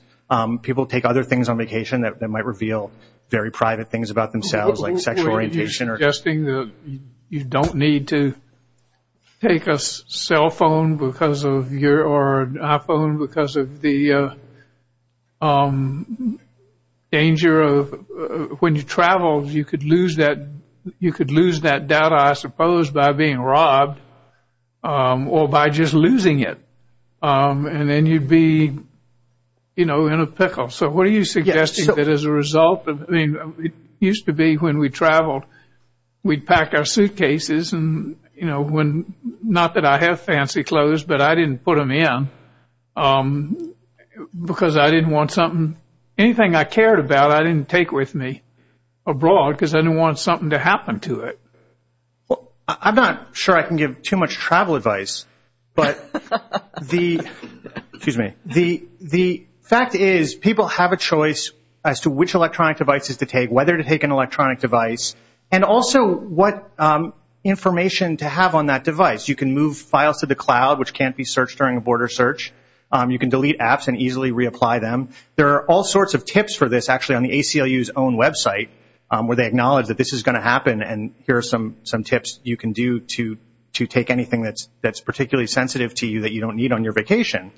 People take other things on vacation that might reveal very private things about themselves, like sexual orientation. You're suggesting that you don't need to take a cell phone because of your, or iPhone because of the danger of when you travel, you could lose that, you could lose that data, I suppose, by being robbed or by just losing it. And then you'd be, you know, in a pickle. So what are you suggesting that as a result of, I mean, it used to be when we traveled, we'd pack our suitcases and, you know, when, not that I have fancy clothes, but I didn't put them in because I didn't want something, anything I cared about, I didn't take with me abroad because I didn't want something to happen to it. I'm not sure I can give too much travel advice, but the, excuse me, the fact is people have a choice as to which electronic devices to take, whether to take an electronic device, and also what information to have on that device. You can move files to the cloud, which can't be searched during a border search. You can delete apps and easily reapply them. There are all sorts of tips for this actually on the ACLU's own website, where they acknowledge that this is going to happen. And here are some tips you can do to take anything that's particularly sensitive to you that you don't need on your vacation.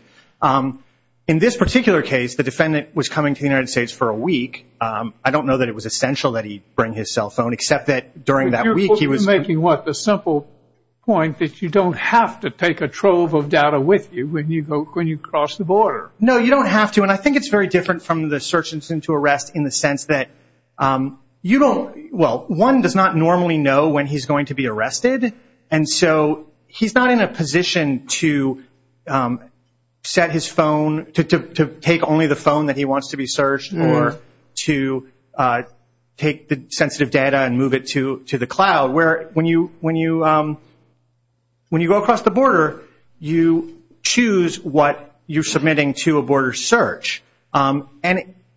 In this particular case, the defendant was coming to the United States for a week. I don't know that it was essential that he bring his cell phone, except that during that week, he was making what the simple point that you don't have to take a trove of data with you when you go, when you cross the border. No, you don't have to. I think it's very different from the search and send to arrest in the sense that you don't, well, one does not normally know when he's going to be arrested. And so he's not in a position to set his phone, to take only the phone that he wants to be searched or to take the sensitive data and move it to the cloud, where when you go across the border, you choose what you're submitting to a border search. And,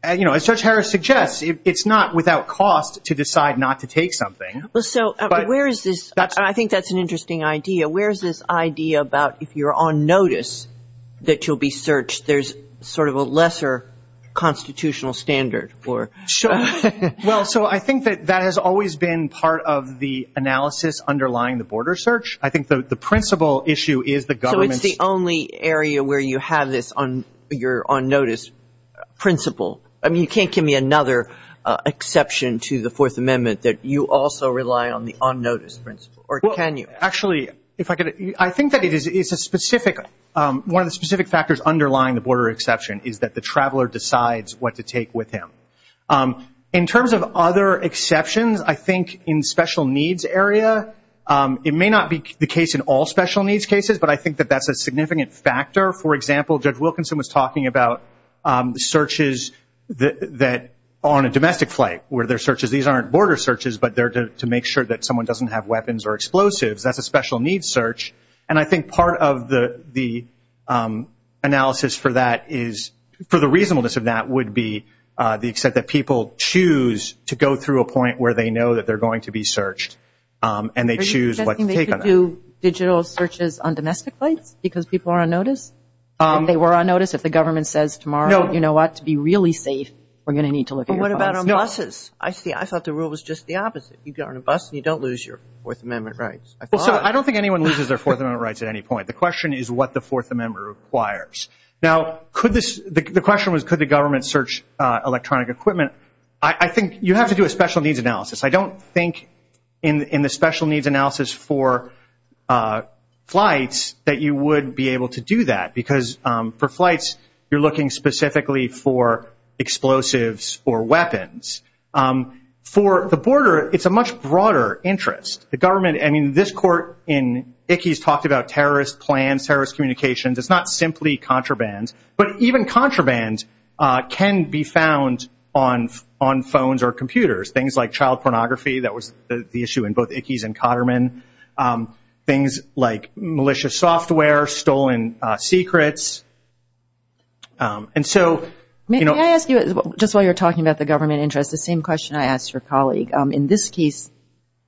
you know, as Judge Harris suggests, it's not without cost to decide not to take something. Well, so where is this? I think that's an interesting idea. Where's this idea about if you're on notice that you'll be searched, there's sort of a lesser constitutional standard for? Well, so I think that that has always been part of the analysis underlying the border search. I think the principal issue is the government. So it's the only area where you have this on your on-notice principle. I mean, you can't give me another exception to the Fourth Amendment that you also rely on the on-notice principle, or can you? Actually, if I could, I think that it is a specific, one of the specific factors underlying the border exception is that the traveler decides what to take with him. In terms of other exceptions, I think in special needs area, it may not be the case in all special needs cases, but I think that that's a significant factor. For example, Judge Wilkinson was talking about searches that on a domestic flight where there are searches. These aren't border searches, but they're to make sure that someone doesn't have weapons or explosives. That's a special needs search. And I think part of the analysis for that is for the reasonableness of that would be the extent that people choose to go through a point where they know that they're going to be searched and they choose what to take on that. Do you think they should do digital searches on domestic flights because people are on notice? They were on notice if the government says tomorrow, you know what, to be really safe, we're going to need to look at your flight. What about on buses? I see. I thought the rule was just the opposite. You get on a bus and you don't lose your Fourth Amendment rights. I don't think anyone loses their Fourth Amendment rights at any point. The question is what the Fourth Amendment requires. Now, the question was, could the government search electronic equipment? I think you have to do a special needs analysis. I don't think in the special needs analysis for flights that you would be able to do that because for flights, you're looking specifically for explosives or weapons. For the border, it's a much broader interest. The government and in this court in Ickes talked about terrorist plans, terrorist communications. It's not simply contraband, but even contraband can be found on phones or computers, things like child pornography. That was the issue in both Ickes and Cotterman. Things like malicious software, stolen secrets. And so, you know... May I ask you, just while you're talking about the government interest, the same question I asked your colleague. In this case,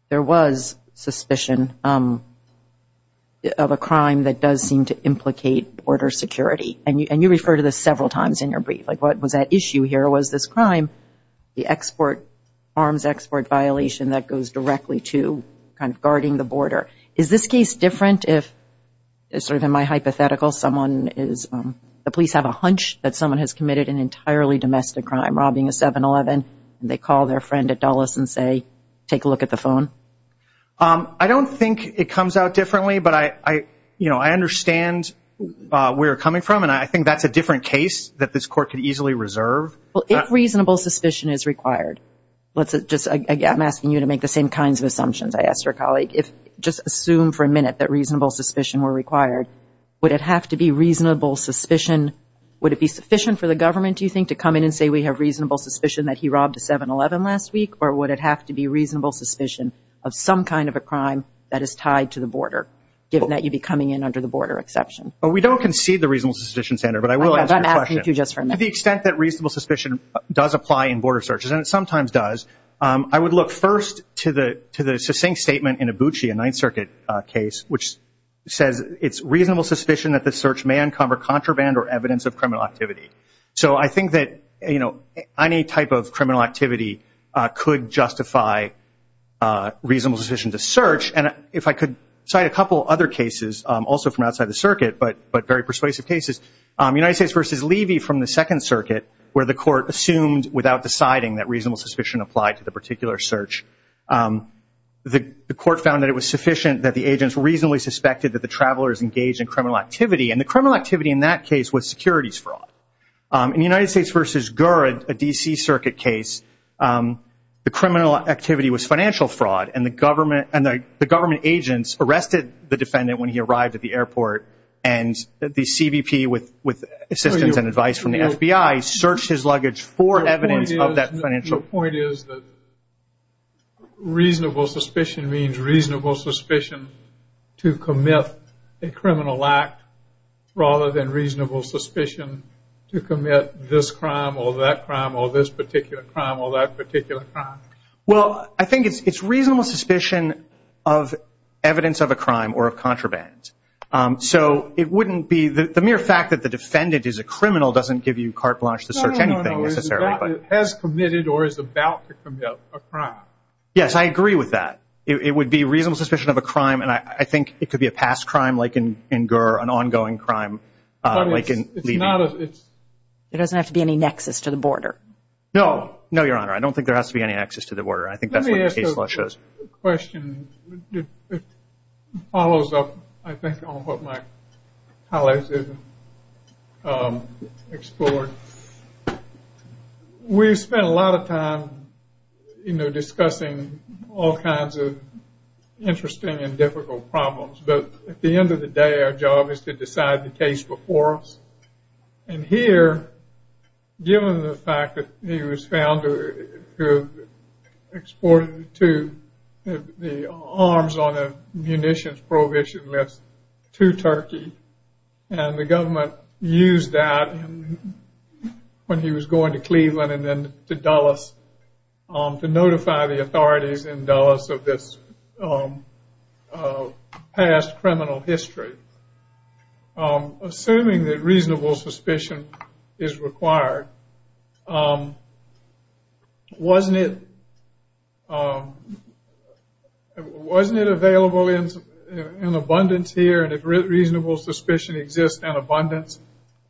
there was suspicion of a crime that does seem to implicate border security. And you refer to this several times in your brief. Like, what was that issue here was this crime, the export, arms export violation that goes directly to kind of guarding the border. Is this case different if, sort of in my hypothetical, someone is... The police have a hunch that someone has committed an entirely domestic crime, robbing a 7-Eleven. They call their friend at Dulles and say, take a look at the phone. I don't think it comes out differently. But I, you know, I understand where you're coming from. And I think that's a different case that this court could easily reserve. Well, if reasonable suspicion is required, let's just, again, I'm asking you to make the same kinds of assumptions I asked your colleague. If just assume for a minute that reasonable suspicion were required, would it have to be reasonable suspicion? Would it be sufficient for the government, do you think, to come in and say, we have robbed a 7-Eleven last week? Or would it have to be reasonable suspicion of some kind of a crime that is tied to the border, given that you'd be coming in under the border exception? Well, we don't concede the reasonable suspicion, Senator. But I will ask you a question. To the extent that reasonable suspicion does apply in border searches, and it sometimes does, I would look first to the succinct statement in Abuchi, a Ninth Circuit case, which says it's reasonable suspicion that the search may uncover contraband or evidence of criminal activity. So I think that any type of criminal activity could justify reasonable suspicion to search. And if I could cite a couple other cases, also from outside the circuit, but very persuasive cases, United States v. Levy from the Second Circuit, where the court assumed without deciding that reasonable suspicion applied to the particular search, the court found that it was sufficient that the agents reasonably suspected that the travelers engaged in criminal activity. And the criminal activity in that case was securities fraud. In United States v. Gurds, a D.C. Circuit case, the criminal activity was financial fraud. And the government agents arrested the defendant when he arrived at the airport. And the CBP, with assistance and advice from the FBI, searched his luggage for evidence of that financial fraud. Well, I think it's reasonable suspicion of evidence of a crime or of contraband. So it wouldn't be the mere fact that the defendant is a criminal doesn't give you carte blanche to search anything, necessarily. Yes, I agree with that. It would be reasonable suspicion of a crime. And I think it could be a past crime, like in Gurd, an ongoing crime. There doesn't have to be any nexus to the border. No. No, Your Honor. I don't think there has to be any nexus to the border. I think that's what the case law shows. Let me ask a question that follows up, I think, on what my colleagues have explored. We spent a lot of time discussing all kinds of interesting and difficult problems. But at the end of the day, our job is to decide the case before us. And here, given the fact that he was found to have exported the arms on a munitions prohibition list to Turkey, and the government used that, and the government when he was going to Cleveland and then to Dulles, to notify the authorities in Dulles of this past criminal history. Assuming that reasonable suspicion is required, wasn't it available in abundance here? And if reasonable suspicion exists in abundance,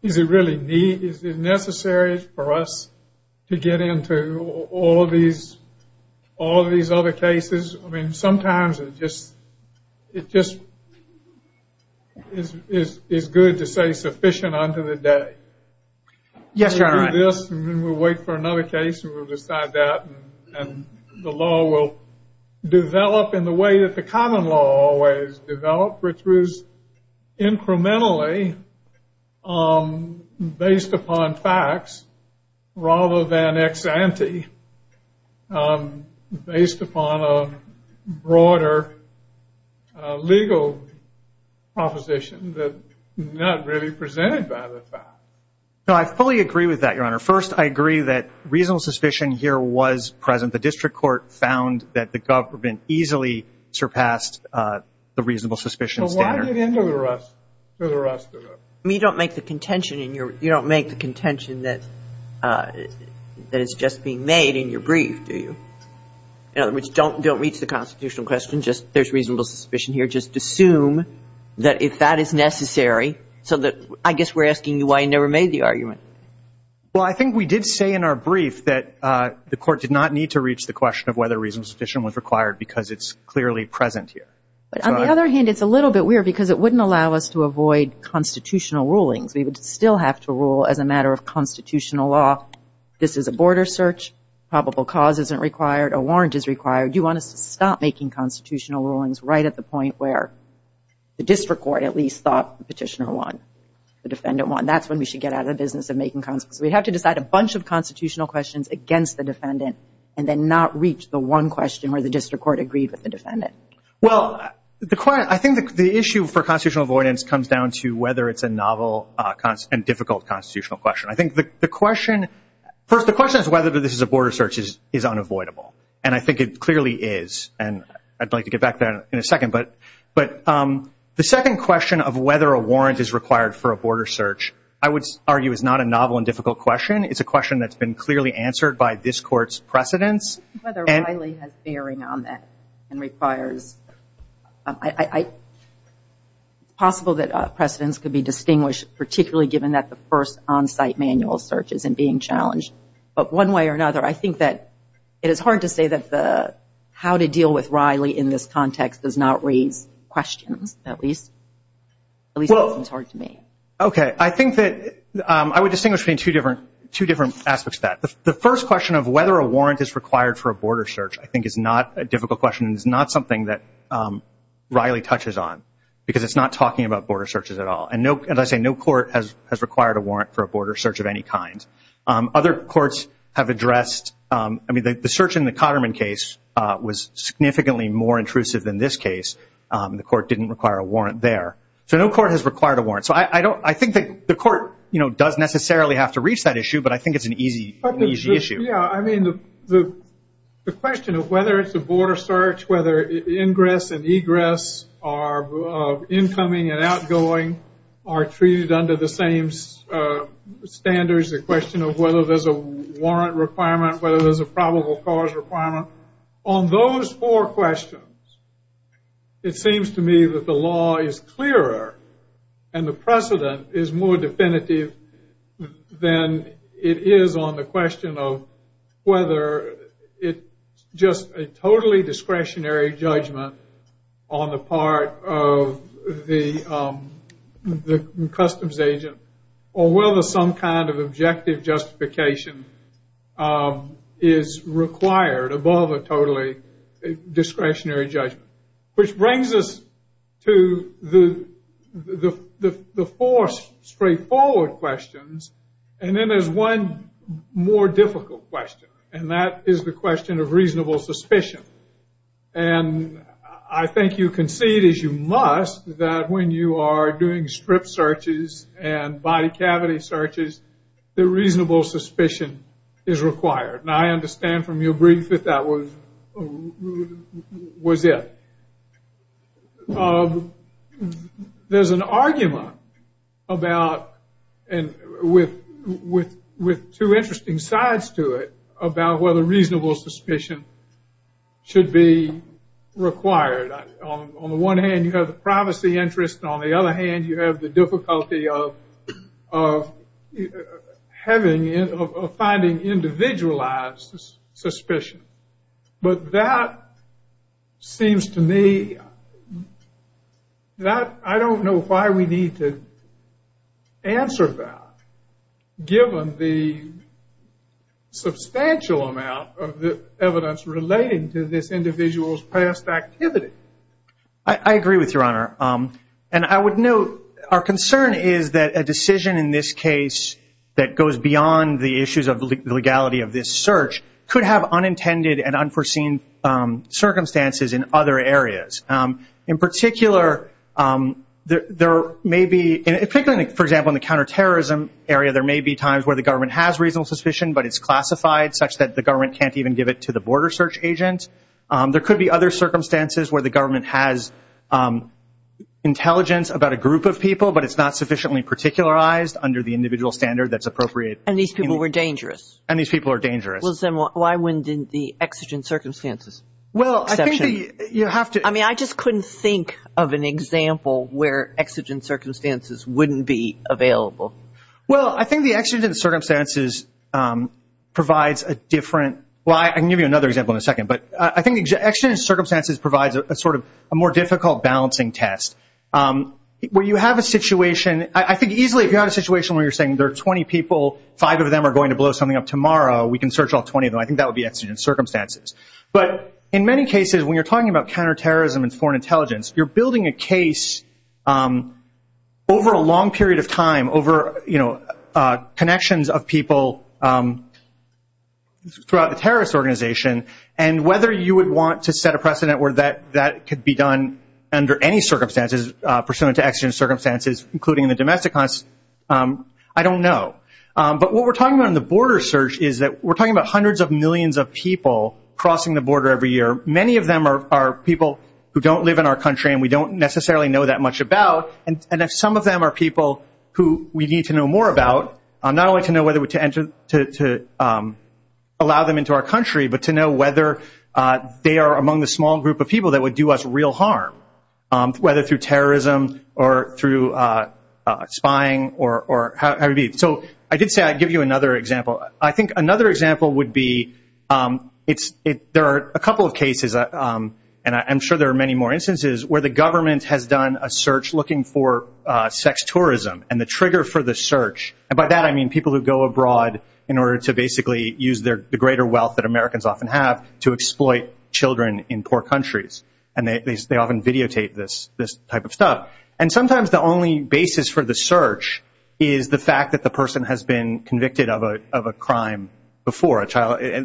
does it really need? Is it necessary for us to get into all these other cases? I mean, sometimes it just is good to say sufficient unto the day. Yes, Your Honor. We'll do this, and then we'll wait for another case, and we'll decide that. And the law will develop in the way that the common law always developed, which was incrementally based upon facts rather than ex-ante, based upon a broader legal proposition that is not really presented by the facts. No, I fully agree with that, Your Honor. First, I agree that reasonable suspicion here was present. The district court found that the government easily surpassed the reasonable suspicion. So why did it end with an arrest? You don't make the contention that it's just being made in your brief, do you? In other words, don't reach the constitutional question. Just there's reasonable suspicion here. Just assume that if that is necessary. So I guess we're asking you why you never made the argument. Well, I think we did say in our brief that the court did not need to reach the question of whether reasonable suspicion was required because it's clearly present here. But on the other hand, it's a little bit weird because it wouldn't allow us to avoid constitutional rulings. We would still have to rule as a matter of constitutional law. This is a border search. Probable cause isn't required. A warrant is required. You want to stop making constitutional rulings right at the point where the district court at least thought the petitioner won, the defendant won. That's when we should get out of the business of making constitutional rulings. We have to decide a bunch of constitutional questions against the defendant and then not reach the one question where the district court agreed with the defendant. Well, I think the issue for constitutional avoidance comes down to whether it's a novel and difficult constitutional question. I think the question, first, the question is whether this is a border search is unavoidable. And I think it clearly is. And I'd like to get back there in a second. But the second question of whether a warrant is required for a border search, I would argue, is not a novel and difficult question. It's a question that's been clearly answered by this court's precedents. Whether Riley has bearing on that and requires... Possible that precedents could be distinguished, particularly given that the first on-site manual search isn't being challenged. But one way or another, I think that it is hard to say that the how to deal with Riley in this context does not raise questions at least. At least it's hard to me. Okay. I think that I would distinguish between two different aspects to that. The first question of whether a warrant is required for a border search, I think, is not a difficult question. It's not something that Riley touches on because it's not talking about border searches at all. And as I say, no court has required a warrant for a border search of any kind. Other courts have addressed... I mean, the search in the Cotterman case was significantly more intrusive than this case. The court didn't require a warrant there. So no court has required a warrant. So I think that the court does necessarily have to reach that issue. But I think it's an easy issue. Yeah. I mean, the question of whether it's a border search, whether the ingress and egress are incoming and outgoing, are treated under the same standards, the question of whether there's a warrant requirement, whether there's a probable cause requirement. On those four questions, it seems to me that the law is clearer and the precedent is more it is on the question of whether it's just a totally discretionary judgment on the part of the customs agent or whether some kind of objective justification is required above a totally discretionary judgment. Which brings us to the four straightforward questions. And then there's one more difficult question. And that is the question of reasonable suspicion. And I think you can see it as you must that when you are doing strip searches and body cavity searches, the reasonable suspicion is required. Now, I understand from your brief that that was it. But there's an argument about, and with two interesting sides to it, about whether reasonable suspicion should be required. On the one hand, you have the privacy interest. On the other hand, you have the difficulty of finding individualized suspicion. But that seems to me that I don't know why we need to answer that, given the substantial amount of the evidence relating to this individual's past activity. I agree with you, Your Honor. And I would note our concern is that a decision in this case that goes beyond the issues of legality of this search could have unintended and unforeseen circumstances in other areas. In particular, there may be, particularly, for example, in the counterterrorism area, there may be times where the government has reasonable suspicion, but it's classified such that the government can't even give it to the border search agent. There could be other circumstances where the government has intelligence about a group of people, but it's not sufficiently particularized under the individual standard that's appropriate. And these people were dangerous. And these people are dangerous. Well, then why wouldn't the exigent circumstances? Well, I think that you have to... I mean, I just couldn't think of an example where exigent circumstances wouldn't be available. Well, I think the exigent circumstances provides a different... Well, I can give you another example in a second, but I think exigent circumstances provides a more difficult balancing test. Where you have a situation... I think easily if you're in a situation where you're saying there are 20 people, five of them are going to blow something up tomorrow, we can search all 20 of them. I think that would be exigent circumstances. But in many cases, when you're talking about counterterrorism and foreign intelligence, you're building a case over a long period of time, over connections of people throughout a terrorist organization. And whether you would want to set a precedent where that could be done under any circumstances pursuant to exigent circumstances, including the domestic ones, I don't know. But what we're talking about in the border search is that we're talking about hundreds of millions of people crossing the border every year. Many of them are people who don't live in our country, and we don't necessarily know that much about, and that some of them are people who we need to know more about, not only to know whether to allow them into our country, but to know whether they are among the small group of people that would do us real harm, whether through terrorism or through spying or how it would be. So I did say I'd give you another example. I think another example would be, there are a couple of cases, and I'm sure there are many more instances, where the government has done a search looking for sex tourism and the trigger for the search, and by that I mean people who go abroad in order to basically use the greater wealth that Americans often have to exploit children in poor countries, and they often videotape this type of stuff. And sometimes the only basis for the search is the fact that the person has been convicted of a crime before,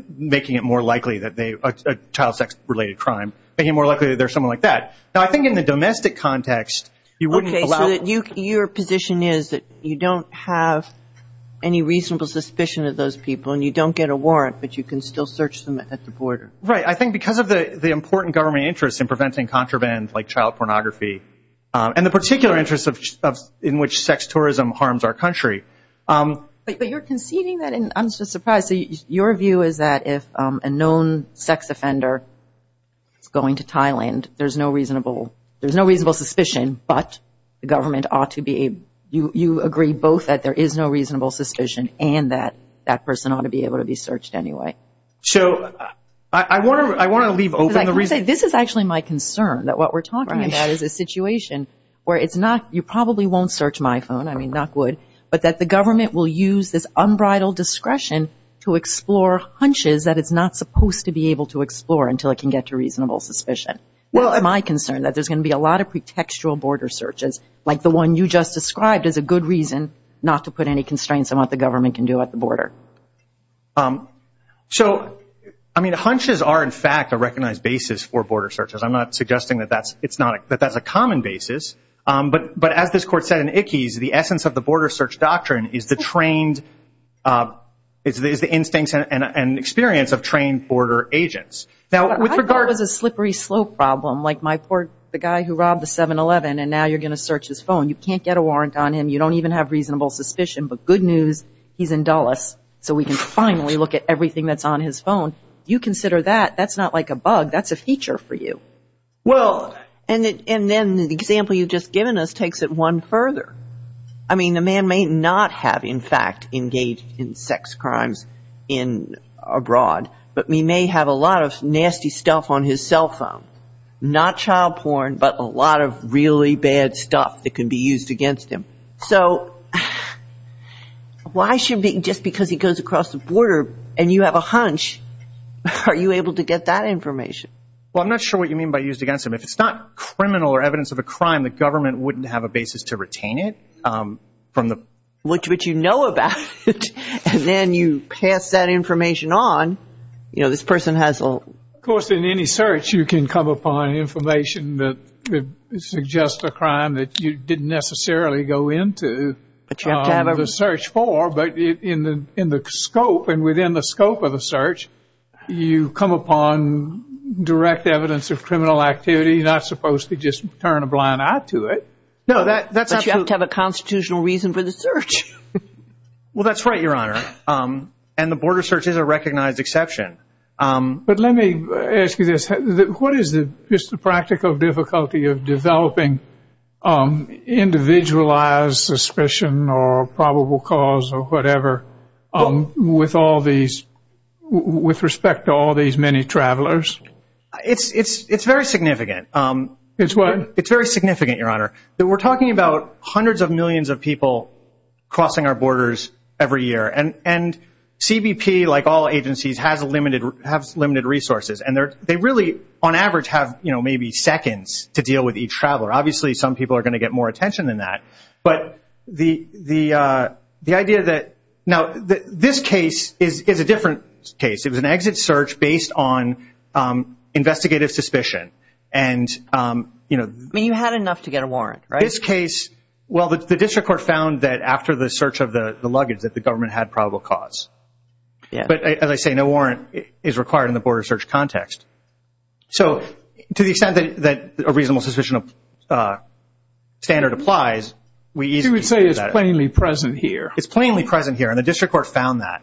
making it more likely that they, a child sex-related crime, making it more likely that they're someone like that. Now I think in the domestic context, you wouldn't allow- Okay, so your position is that you don't have any reasonable suspicion of those people, and you don't get a warrant, but you can still search them at the border. Right. I think because of the important government interest in preventing contraband, like child pornography, and the particular interest in which sex tourism harms our country- But you're conceding that, and I'm just surprised. Your view is that if a known sex offender is going to Thailand, there's no reasonable suspicion, but the government ought to be- you agree both that there is no reasonable suspicion, and that that person ought to be able to be searched anyway. So I want to leave open- This is actually my concern, that what we're talking about is a situation where you probably won't search my phone, I mean, knock wood, but that the government will use this unbridled discretion to explore hunches that it's not supposed to be able to explore until it can get to reasonable suspicion. Well, my concern is that there's going to be a lot of pretextual border searches, like the one you just described is a good reason not to put any constraints on what the government can do at the border. So, I mean, hunches are, in fact, a recognized basis for border searches. I'm not suggesting that that's a common basis, but as this court said in Ickes, the essence of the border search doctrine is the trained- is the instinct and experience of trained border agents. Now, with regard to the slippery slope problem, like the guy who robbed the 7-Eleven, and now you're going to search his phone, you can't get a warrant on him, you don't even have reasonable suspicion, but good news, he's in Dulles, so we can finally look at everything that's on his phone. You consider that, that's not like a bug, that's a feature for you. Well, and then the example you've just given us takes it one further. I mean, the man may not have, in fact, engaged in sex crimes abroad, but he may have a lot of nasty stuff on his cell phone. Not child porn, but a lot of really bad stuff that can be used against him. So, why should- just because he goes across the border and you have a hunch, are you able to get that information? Well, I'm not sure what you mean by used against him. If it's not criminal or evidence of a crime, the government wouldn't have a basis to retain it from the- Of course, in any search, you can come upon information that suggests a crime that you didn't necessarily go into the search for, but in the scope and within the scope of a search, you come upon direct evidence of criminal activity, you're not supposed to just turn a blind eye to it. No, that's- But you have to have a constitutional reason for the search. Well, that's right, Your Honor, and the border search is a recognized exception. But let me ask you this. What is the practical difficulty of developing individualized suspicion or probable cause or whatever with all these- with respect to all these many travelers? It's very significant. It's what? It's very significant, Your Honor. We're talking about hundreds of millions of people crossing our borders every year, and have limited resources. And they really, on average, have maybe seconds to deal with each traveler. Obviously, some people are going to get more attention than that. But the idea that- now, this case is a different case. It was an exit search based on investigative suspicion. And, you know- I mean, you had enough to get a warrant, right? This case- well, the district court found that after the search of the luggage that the government had probable cause. But as I say, no warrant is required in the border search context. So to the extent that a reasonable suspicion standard applies, we- You would say it's plainly present here. It's plainly present here, and the district court found that.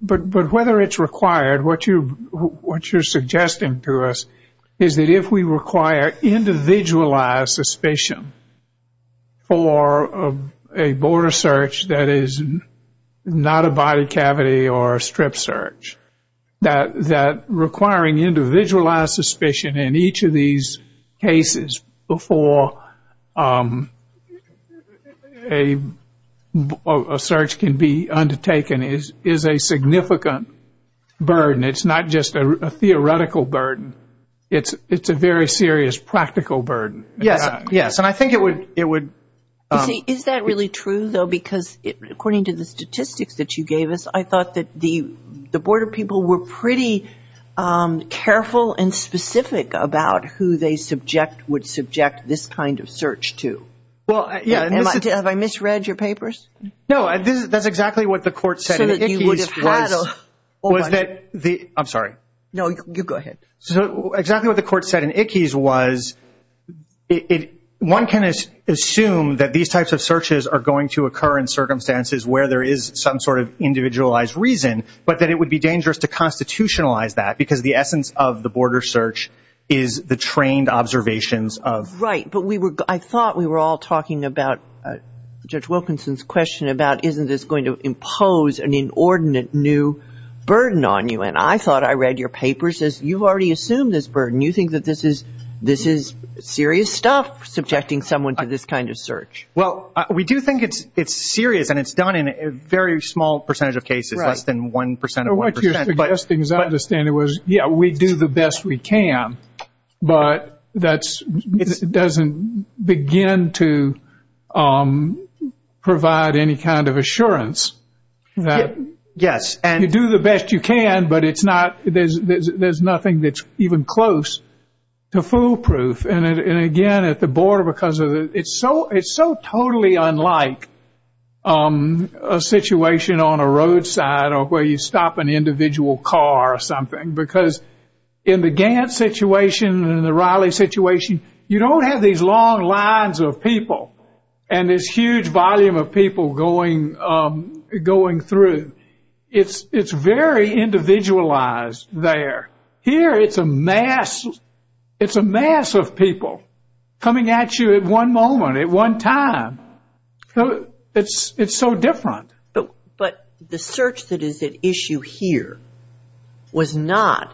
But whether it's required, what you're suggesting to us is that if we require individualized suspicion for a border search that is not a body cavity or a strip search, that requiring individualized suspicion in each of these cases before a search can be undertaken is a significant burden. It's not just a theoretical burden. It's a very serious practical burden. Yes. Yes. And I think it would- Is that really true, though? Because according to the statistics that you gave us, I thought that the border people were pretty careful and specific about who they would subject this kind of search to. Well, yeah. Have I misread your papers? No, that's exactly what the court said. I'm sorry. No, you go ahead. Exactly what the court said in Ickes was, one can assume that these types of searches are going to occur in circumstances where there is some sort of individualized reason, but that it would be dangerous to constitutionalize that because the essence of the border search is the trained observations of- Right. I thought we were all talking about Judge Wilkinson's question about, isn't this going to impose an inordinate new burden on you? I thought I read your papers as you've already assumed this burden. You think that this is serious stuff, subjecting someone to this kind of search. Well, we do think it's serious and it's done in a very small percentage of cases, less than 1% of 1%. What you're suggesting, as I understand it, was, yeah, we do the best we can, but that doesn't begin to provide any kind of assurance. Yes. You do the best you can, but there's nothing that's even close to foolproof. And again, at the border, because it's so totally unlike a situation on a roadside or where you stop an individual car or something, because in the Gantt situation and the Riley situation, you don't have these long lines of people and this huge volume of people going through. It's very individualized there. Here, it's a mass. It's a mass of people coming at you at one moment, at one time. So it's so different. But the search that is at issue here was not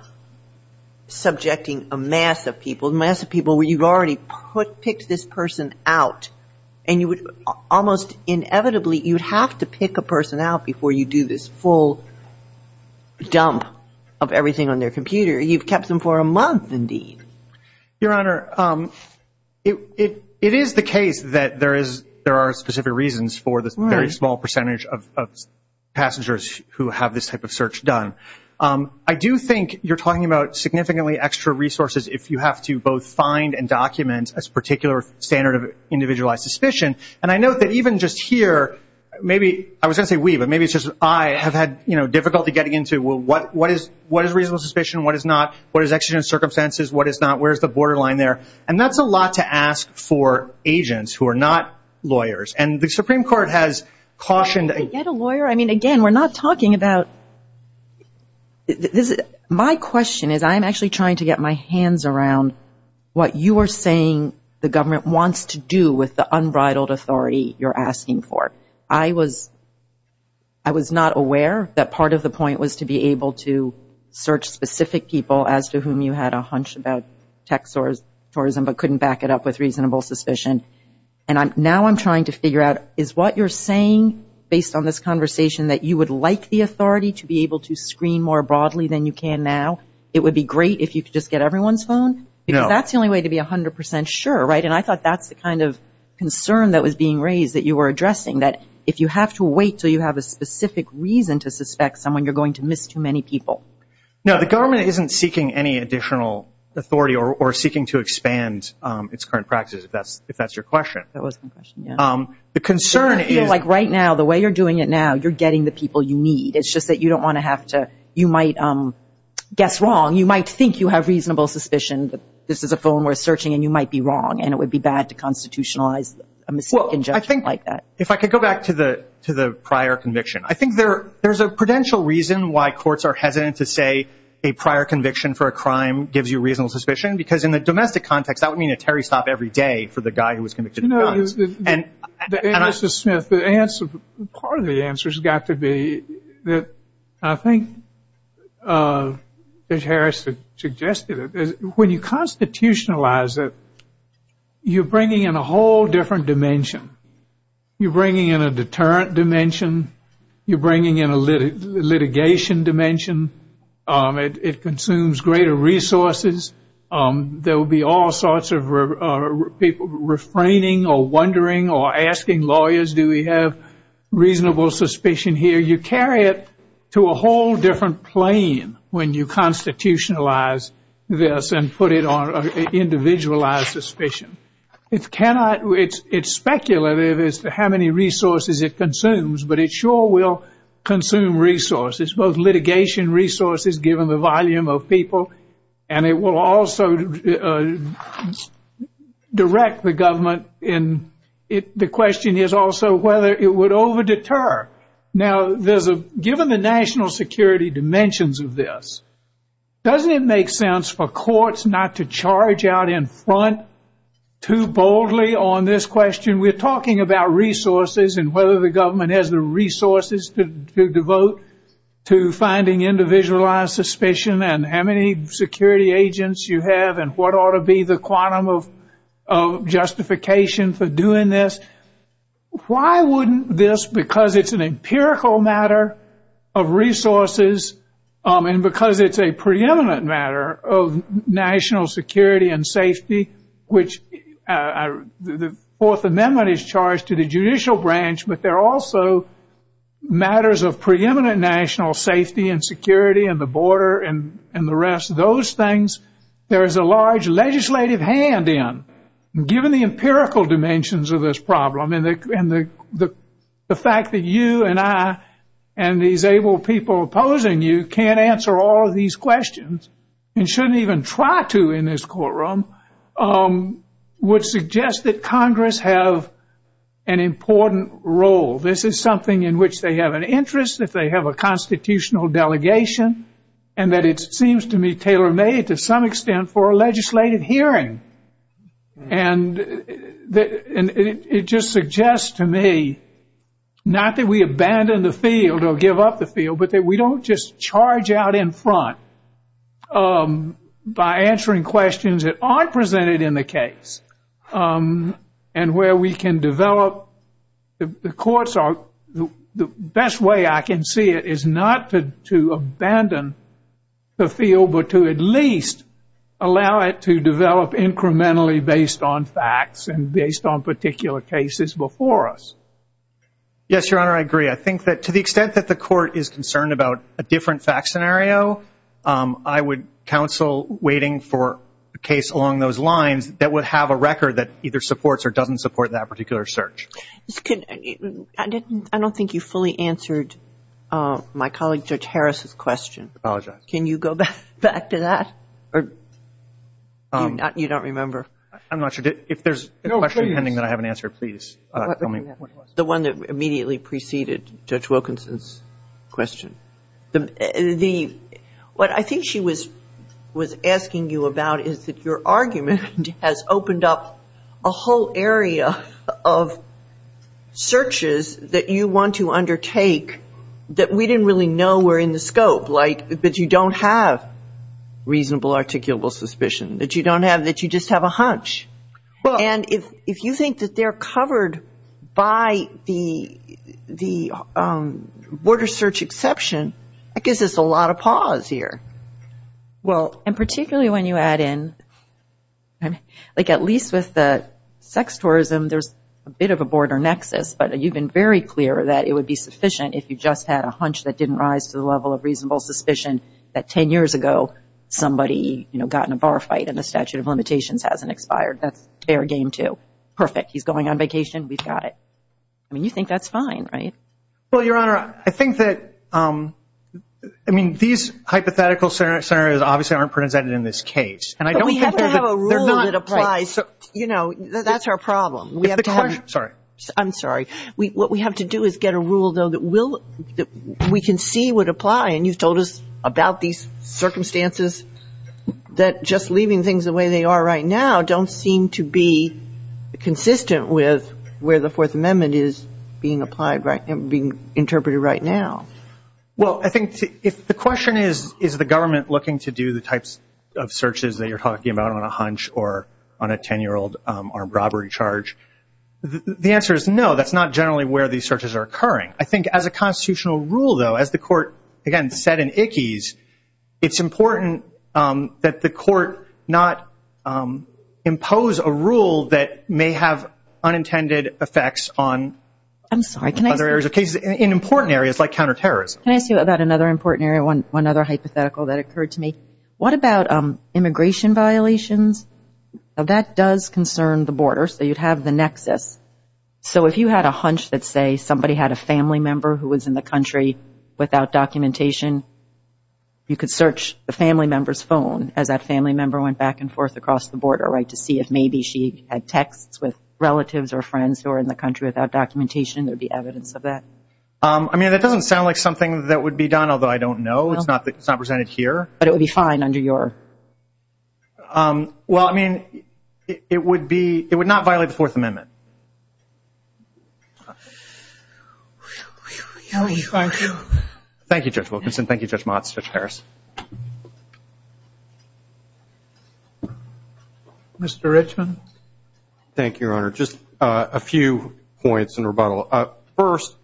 subjecting a mass of people, mass of people where you've already picked this person out. And you would almost inevitably, you'd have to pick a person out before you do this full dump of everything on their computer. You've kept them for a month, indeed. Your Honor, it is the case that there are specific reasons for the very small percentage of passengers who have this type of search done. I do think you're talking about significantly extra resources if you have to both find and document a particular standard of individualized suspicion. And I note that even just here, maybe I was going to say we, but maybe it's just I have had difficulty getting into what is reasonable suspicion, what is not, what is actually in circumstances, what is not, where's the borderline there? And that's a lot to ask for agents who are not lawyers. And the Supreme Court has cautioned... If you get a lawyer, I mean, again, we're not talking about... My question is, I'm actually trying to get my hands around what you are saying the government wants to do with the unbridled authority you're asking for. I was not aware that part of the point was to be able to search specific people as to whom you had a hunch about tech tourism, but couldn't back it up with reasonable suspicion. And now I'm trying to figure out, is what you're saying, based on this conversation, that you would like the authority to be able to screen more broadly than you can now? It would be great if you could just get everyone's phone? Is that the only way to be 100% sure, right? And I thought that's the kind of concern that was being raised that you were addressing, that if you have to wait till you have a specific reason to suspect someone, you're going to miss too many people. Now, the government isn't seeking any additional authority or seeking to expand its current practice, if that's your question. The concern is... Like right now, the way you're doing it now, you're getting the people you need. It's just that you don't want to have to... You might guess wrong. You might think you have reasonable suspicions. This is a phone worth searching, and you might be wrong, and it would be bad to constitutionalize a misconjection like that. If I could go back to the prior conviction. I think there's a prudential reason why courts are hesitant to say a prior conviction for a crime gives you reasonable suspicion, because in a domestic context, that would mean a carry stop every day for the guy who was convicted. No, Mr. Smith, part of the answer has got to be that I think, as Harris suggested, when you constitutionalize it, you're bringing in a whole different dimension. You're bringing in a deterrent dimension. You're bringing in a litigation dimension. It consumes greater resources. There will be all sorts of people refraining or wondering or asking lawyers, do we have reasonable suspicion here? You carry it to a whole different plane when you constitutionalize this and put it on an individualized suspicion. It's speculative as to how many resources it consumes, but it sure will consume resources, both litigation resources, given the volume of people, and it will also direct the government. The question is also whether it would over deter. Now, given the national security dimensions of this, doesn't it make sense for courts not to charge out in front too boldly on this question? We're talking about resources and whether the government has the resources to devote to finding individualized suspicion and how many security agents you have and what ought to be the quantum of justification for doing this. Why wouldn't this, because it's an empirical matter of resources and because it's a preeminent matter of national security and safety, which the Fourth Amendment is charged to the judicial branch, but there are also matters of preeminent national safety and security and the border and the rest of those things, there is a large legislative hand in. Given the empirical dimensions of this problem and the fact that you and I and these able people opposing you can't answer all of these questions and shouldn't even try to in this courtroom, would suggest that Congress have an important role. This is something in which they have an interest, that they have a constitutional delegation, and that it seems to me tailor-made to some extent for a legislative hearing. And it just suggests to me, not that we abandon the field or give up the field, but that we don't just charge out in front by answering questions that aren't presented in the case and where we can develop the courts. The best way I can see it is not to abandon the field, but to at least allow it to develop incrementally based on facts and based on particular cases before us. Yes, Your Honor, I agree. I think that to the extent that the court is concerned about a different fact scenario, I would counsel waiting for a case along those lines that would have a record that either supports or doesn't support that particular search. I don't think you fully answered my colleague, Judge Harris' question. I apologize. Can you go back? Back to that? You don't remember? I'm not sure. If there's a question pending that I haven't answered, please tell me. The one that immediately preceded Judge Wilkinson's question. What I think she was asking you about is that your argument has opened up a whole area of searches that you want to undertake that we didn't really know were in the scope, that you don't have reasonable articulable suspicion, that you just have a hunch. And if you think that they're covered by the border search exception, that gives us a lot of pause here. Well, and particularly when you add in, like at least with the sex tourism, there's a bit of a border nexus, but you've been very clear that it would be sufficient if you just had a hunch that didn't rise to the level of reasonable suspicion that 10 years ago somebody got in a bar fight and the statute of limitations hasn't expired. That's their game too. Perfect. He's going on vacation. We've got it. I mean, you think that's fine, right? Well, Your Honor, I think that, I mean, these hypothetical scenarios obviously aren't presented in this case. But we have to have a rule that applies. That's our problem. I'm sorry. What we have to do is get a rule, though, that we can see would apply. And you've told us about these circumstances that just leaving things the way they are right now don't seem to be consistent with where the Fourth Amendment is being applied and being interpreted right now. Well, I think the question is, is the government looking to do the types of searches that you're talking about on a hunch or on a 10-year-old armed robbery charge? The answer is no. That's not generally where these searches are occurring. I think as a constitutional rule, though, as the court, again, said in Ickes, it's important that the court not impose a rule that may have unintended effects on other areas of cases, in important areas like counterterrorism. Can I ask you about another important area, one other hypothetical that occurred to me? What about immigration violations? Now, that does concern the border. So you'd have the nexus. So if you had a hunch that, say, somebody had a family member who was in the country without documentation, you could search the family member's phone as that family member went back and forth across the border, right, to see if maybe she had texts with relatives or friends who are in the country without documentation. There'd be evidence of that. I mean, that doesn't sound like something that would be done, although I don't know. It's not presented here. But it would be fine under your... Well, I mean, it would be... It would not violate the Fourth Amendment. Thank you, Judge Wilkinson. Thank you, Judge Mott, Judge Harris. Mr. Richman. Thank you, Your Honor. Just a few points in rebuttal. First,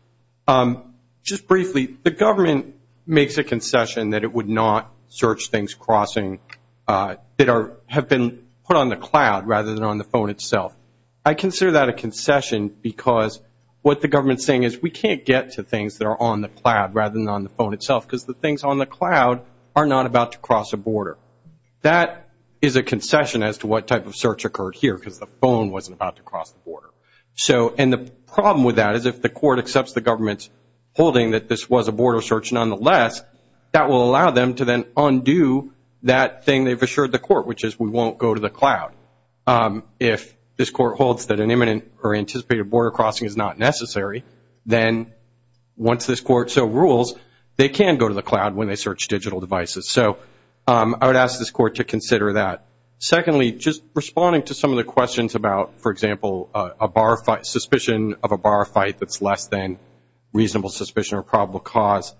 just briefly, the government makes a concession that it would not search things crossing... have been put on the cloud rather than on the phone itself. I consider that a concession because what the government's saying is we can't get to things that are on the cloud rather than on the phone itself because the things on the cloud are not about to cross a border. That is a concession as to what type of search occurred here because the phone wasn't about to cross the border. And the problem with that is if the court accepts the government's holding that this was a border search nonetheless, that will allow them to then undo that thing and they've assured the court, which is we won't go to the cloud. If this court holds that an imminent or anticipated border crossing is not necessary, then once this court so rules, they can go to the cloud when they search digital devices. So I would ask this court to consider that. Secondly, just responding to some of the questions about, for example, a bar fight... suspicion of a bar fight that's less than reasonable suspicion or probable cause.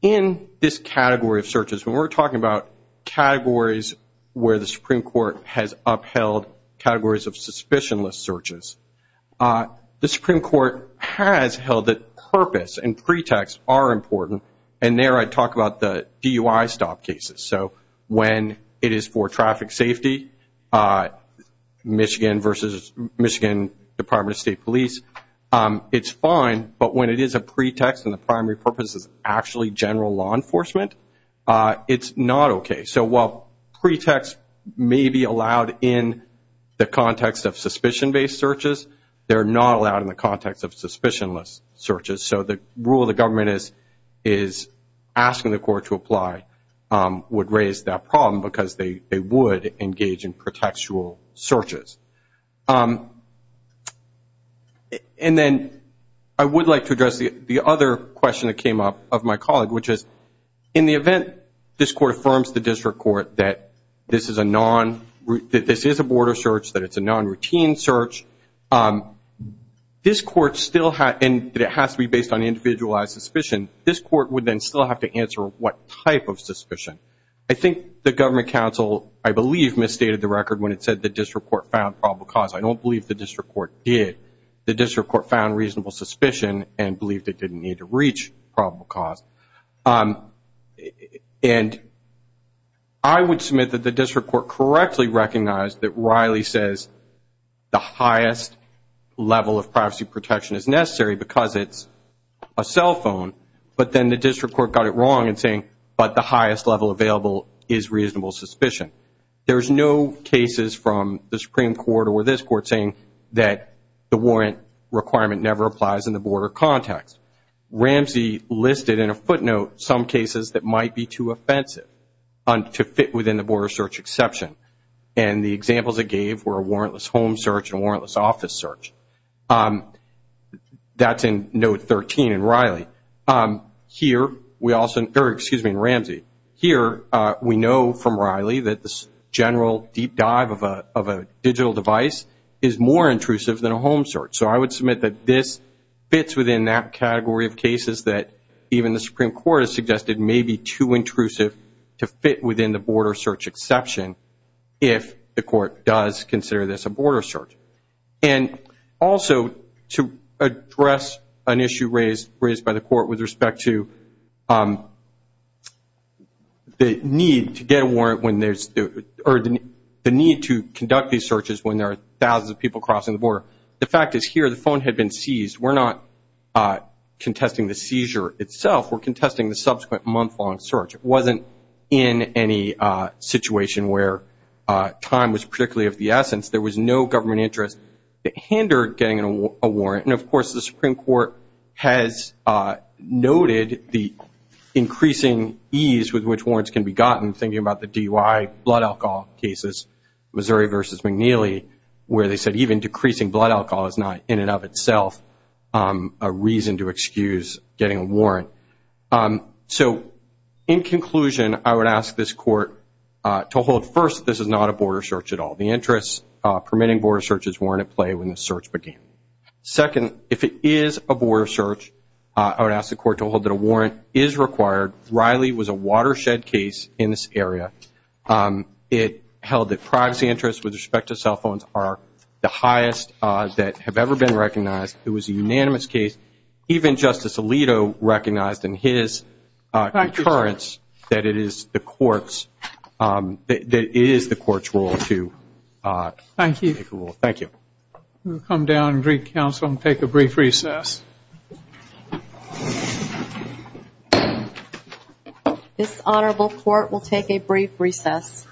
In this category of searches, we're talking about categories where the Supreme Court has upheld categories of suspicionless searches. The Supreme Court has held that purpose and pretext are important. And there I talk about the DUI stop cases. So when it is for traffic safety, Michigan versus Michigan Department of State Police, it's fine. But when it is a pretext and the primary purpose is actually general law enforcement, it's not okay. So while pretext may be allowed in the context of suspicion-based searches, they're not allowed in the context of suspicionless searches. So the rule the government is asking the court to apply would raise that problem because they would engage in pretextual searches. And then I would like to address the other question that came up of my colleague, in the event this court affirms to the district court that this is a border search, that it's a non-routine search, this court still has to be based on individualized suspicion. This court would then still have to answer what type of suspicion. I think the government counsel, I believe, misstated the record when it said the district court found probable cause. I don't believe the district court did. The district court found reasonable suspicion and believed it didn't need to reach probable cause. And I would submit that the district court correctly recognized that Riley says the highest level of privacy protection is necessary because it's a cell phone, but then the district court got it wrong in saying, but the highest level available is reasonable suspicion. There's no cases from the Supreme Court or this court saying that the warrant requirement never applies in the border context. Ramsey listed in a footnote some cases that might be too offensive to fit within the border search exception. And the examples it gave were a warrantless home search and warrantless office search. That's in note 13 in Riley. Here, we also, excuse me, in Ramsey. Here, we know from Riley that this general deep dive of a digital device is more intrusive than a home search. So I would submit that this fits within that category of cases that even the Supreme Court has suggested may be too intrusive to fit within the border search exception if the court does consider this a border search. And also to address an issue raised by the court with respect to the need to get a warrant when there's, or the need to conduct these searches when there are thousands of people crossing the border. The fact is here, the phone had been seized. We're not contesting the seizure itself. We're contesting the subsequent month-long search. It wasn't in any situation where time was particularly of the essence. There was no government interest that hindered getting a warrant. And of course, the Supreme Court has noted the increasing ease with which warrants can be gotten, thinking about the DUI blood alcohol cases, Missouri versus McNeely, where they said even decreasing blood alcohol is not in and of itself a reason to excuse getting a warrant. So in conclusion, I would ask this court to hold, first, this is not a border search at all. The interests permitting border searches weren't at play when the search began. Second, if it is a border search, I would ask the court to hold that a warrant is required. Riley was a watershed case in this area. It held that privacy interests with respect to cell phones are the highest odds that have ever been recognized. It was a unanimous case. Even Justice Alito recognized in his concurrence that it is the court's role to make a rule. Thank you. We'll come down and greet counsel and take a brief recess. This honorable court will take a brief recess.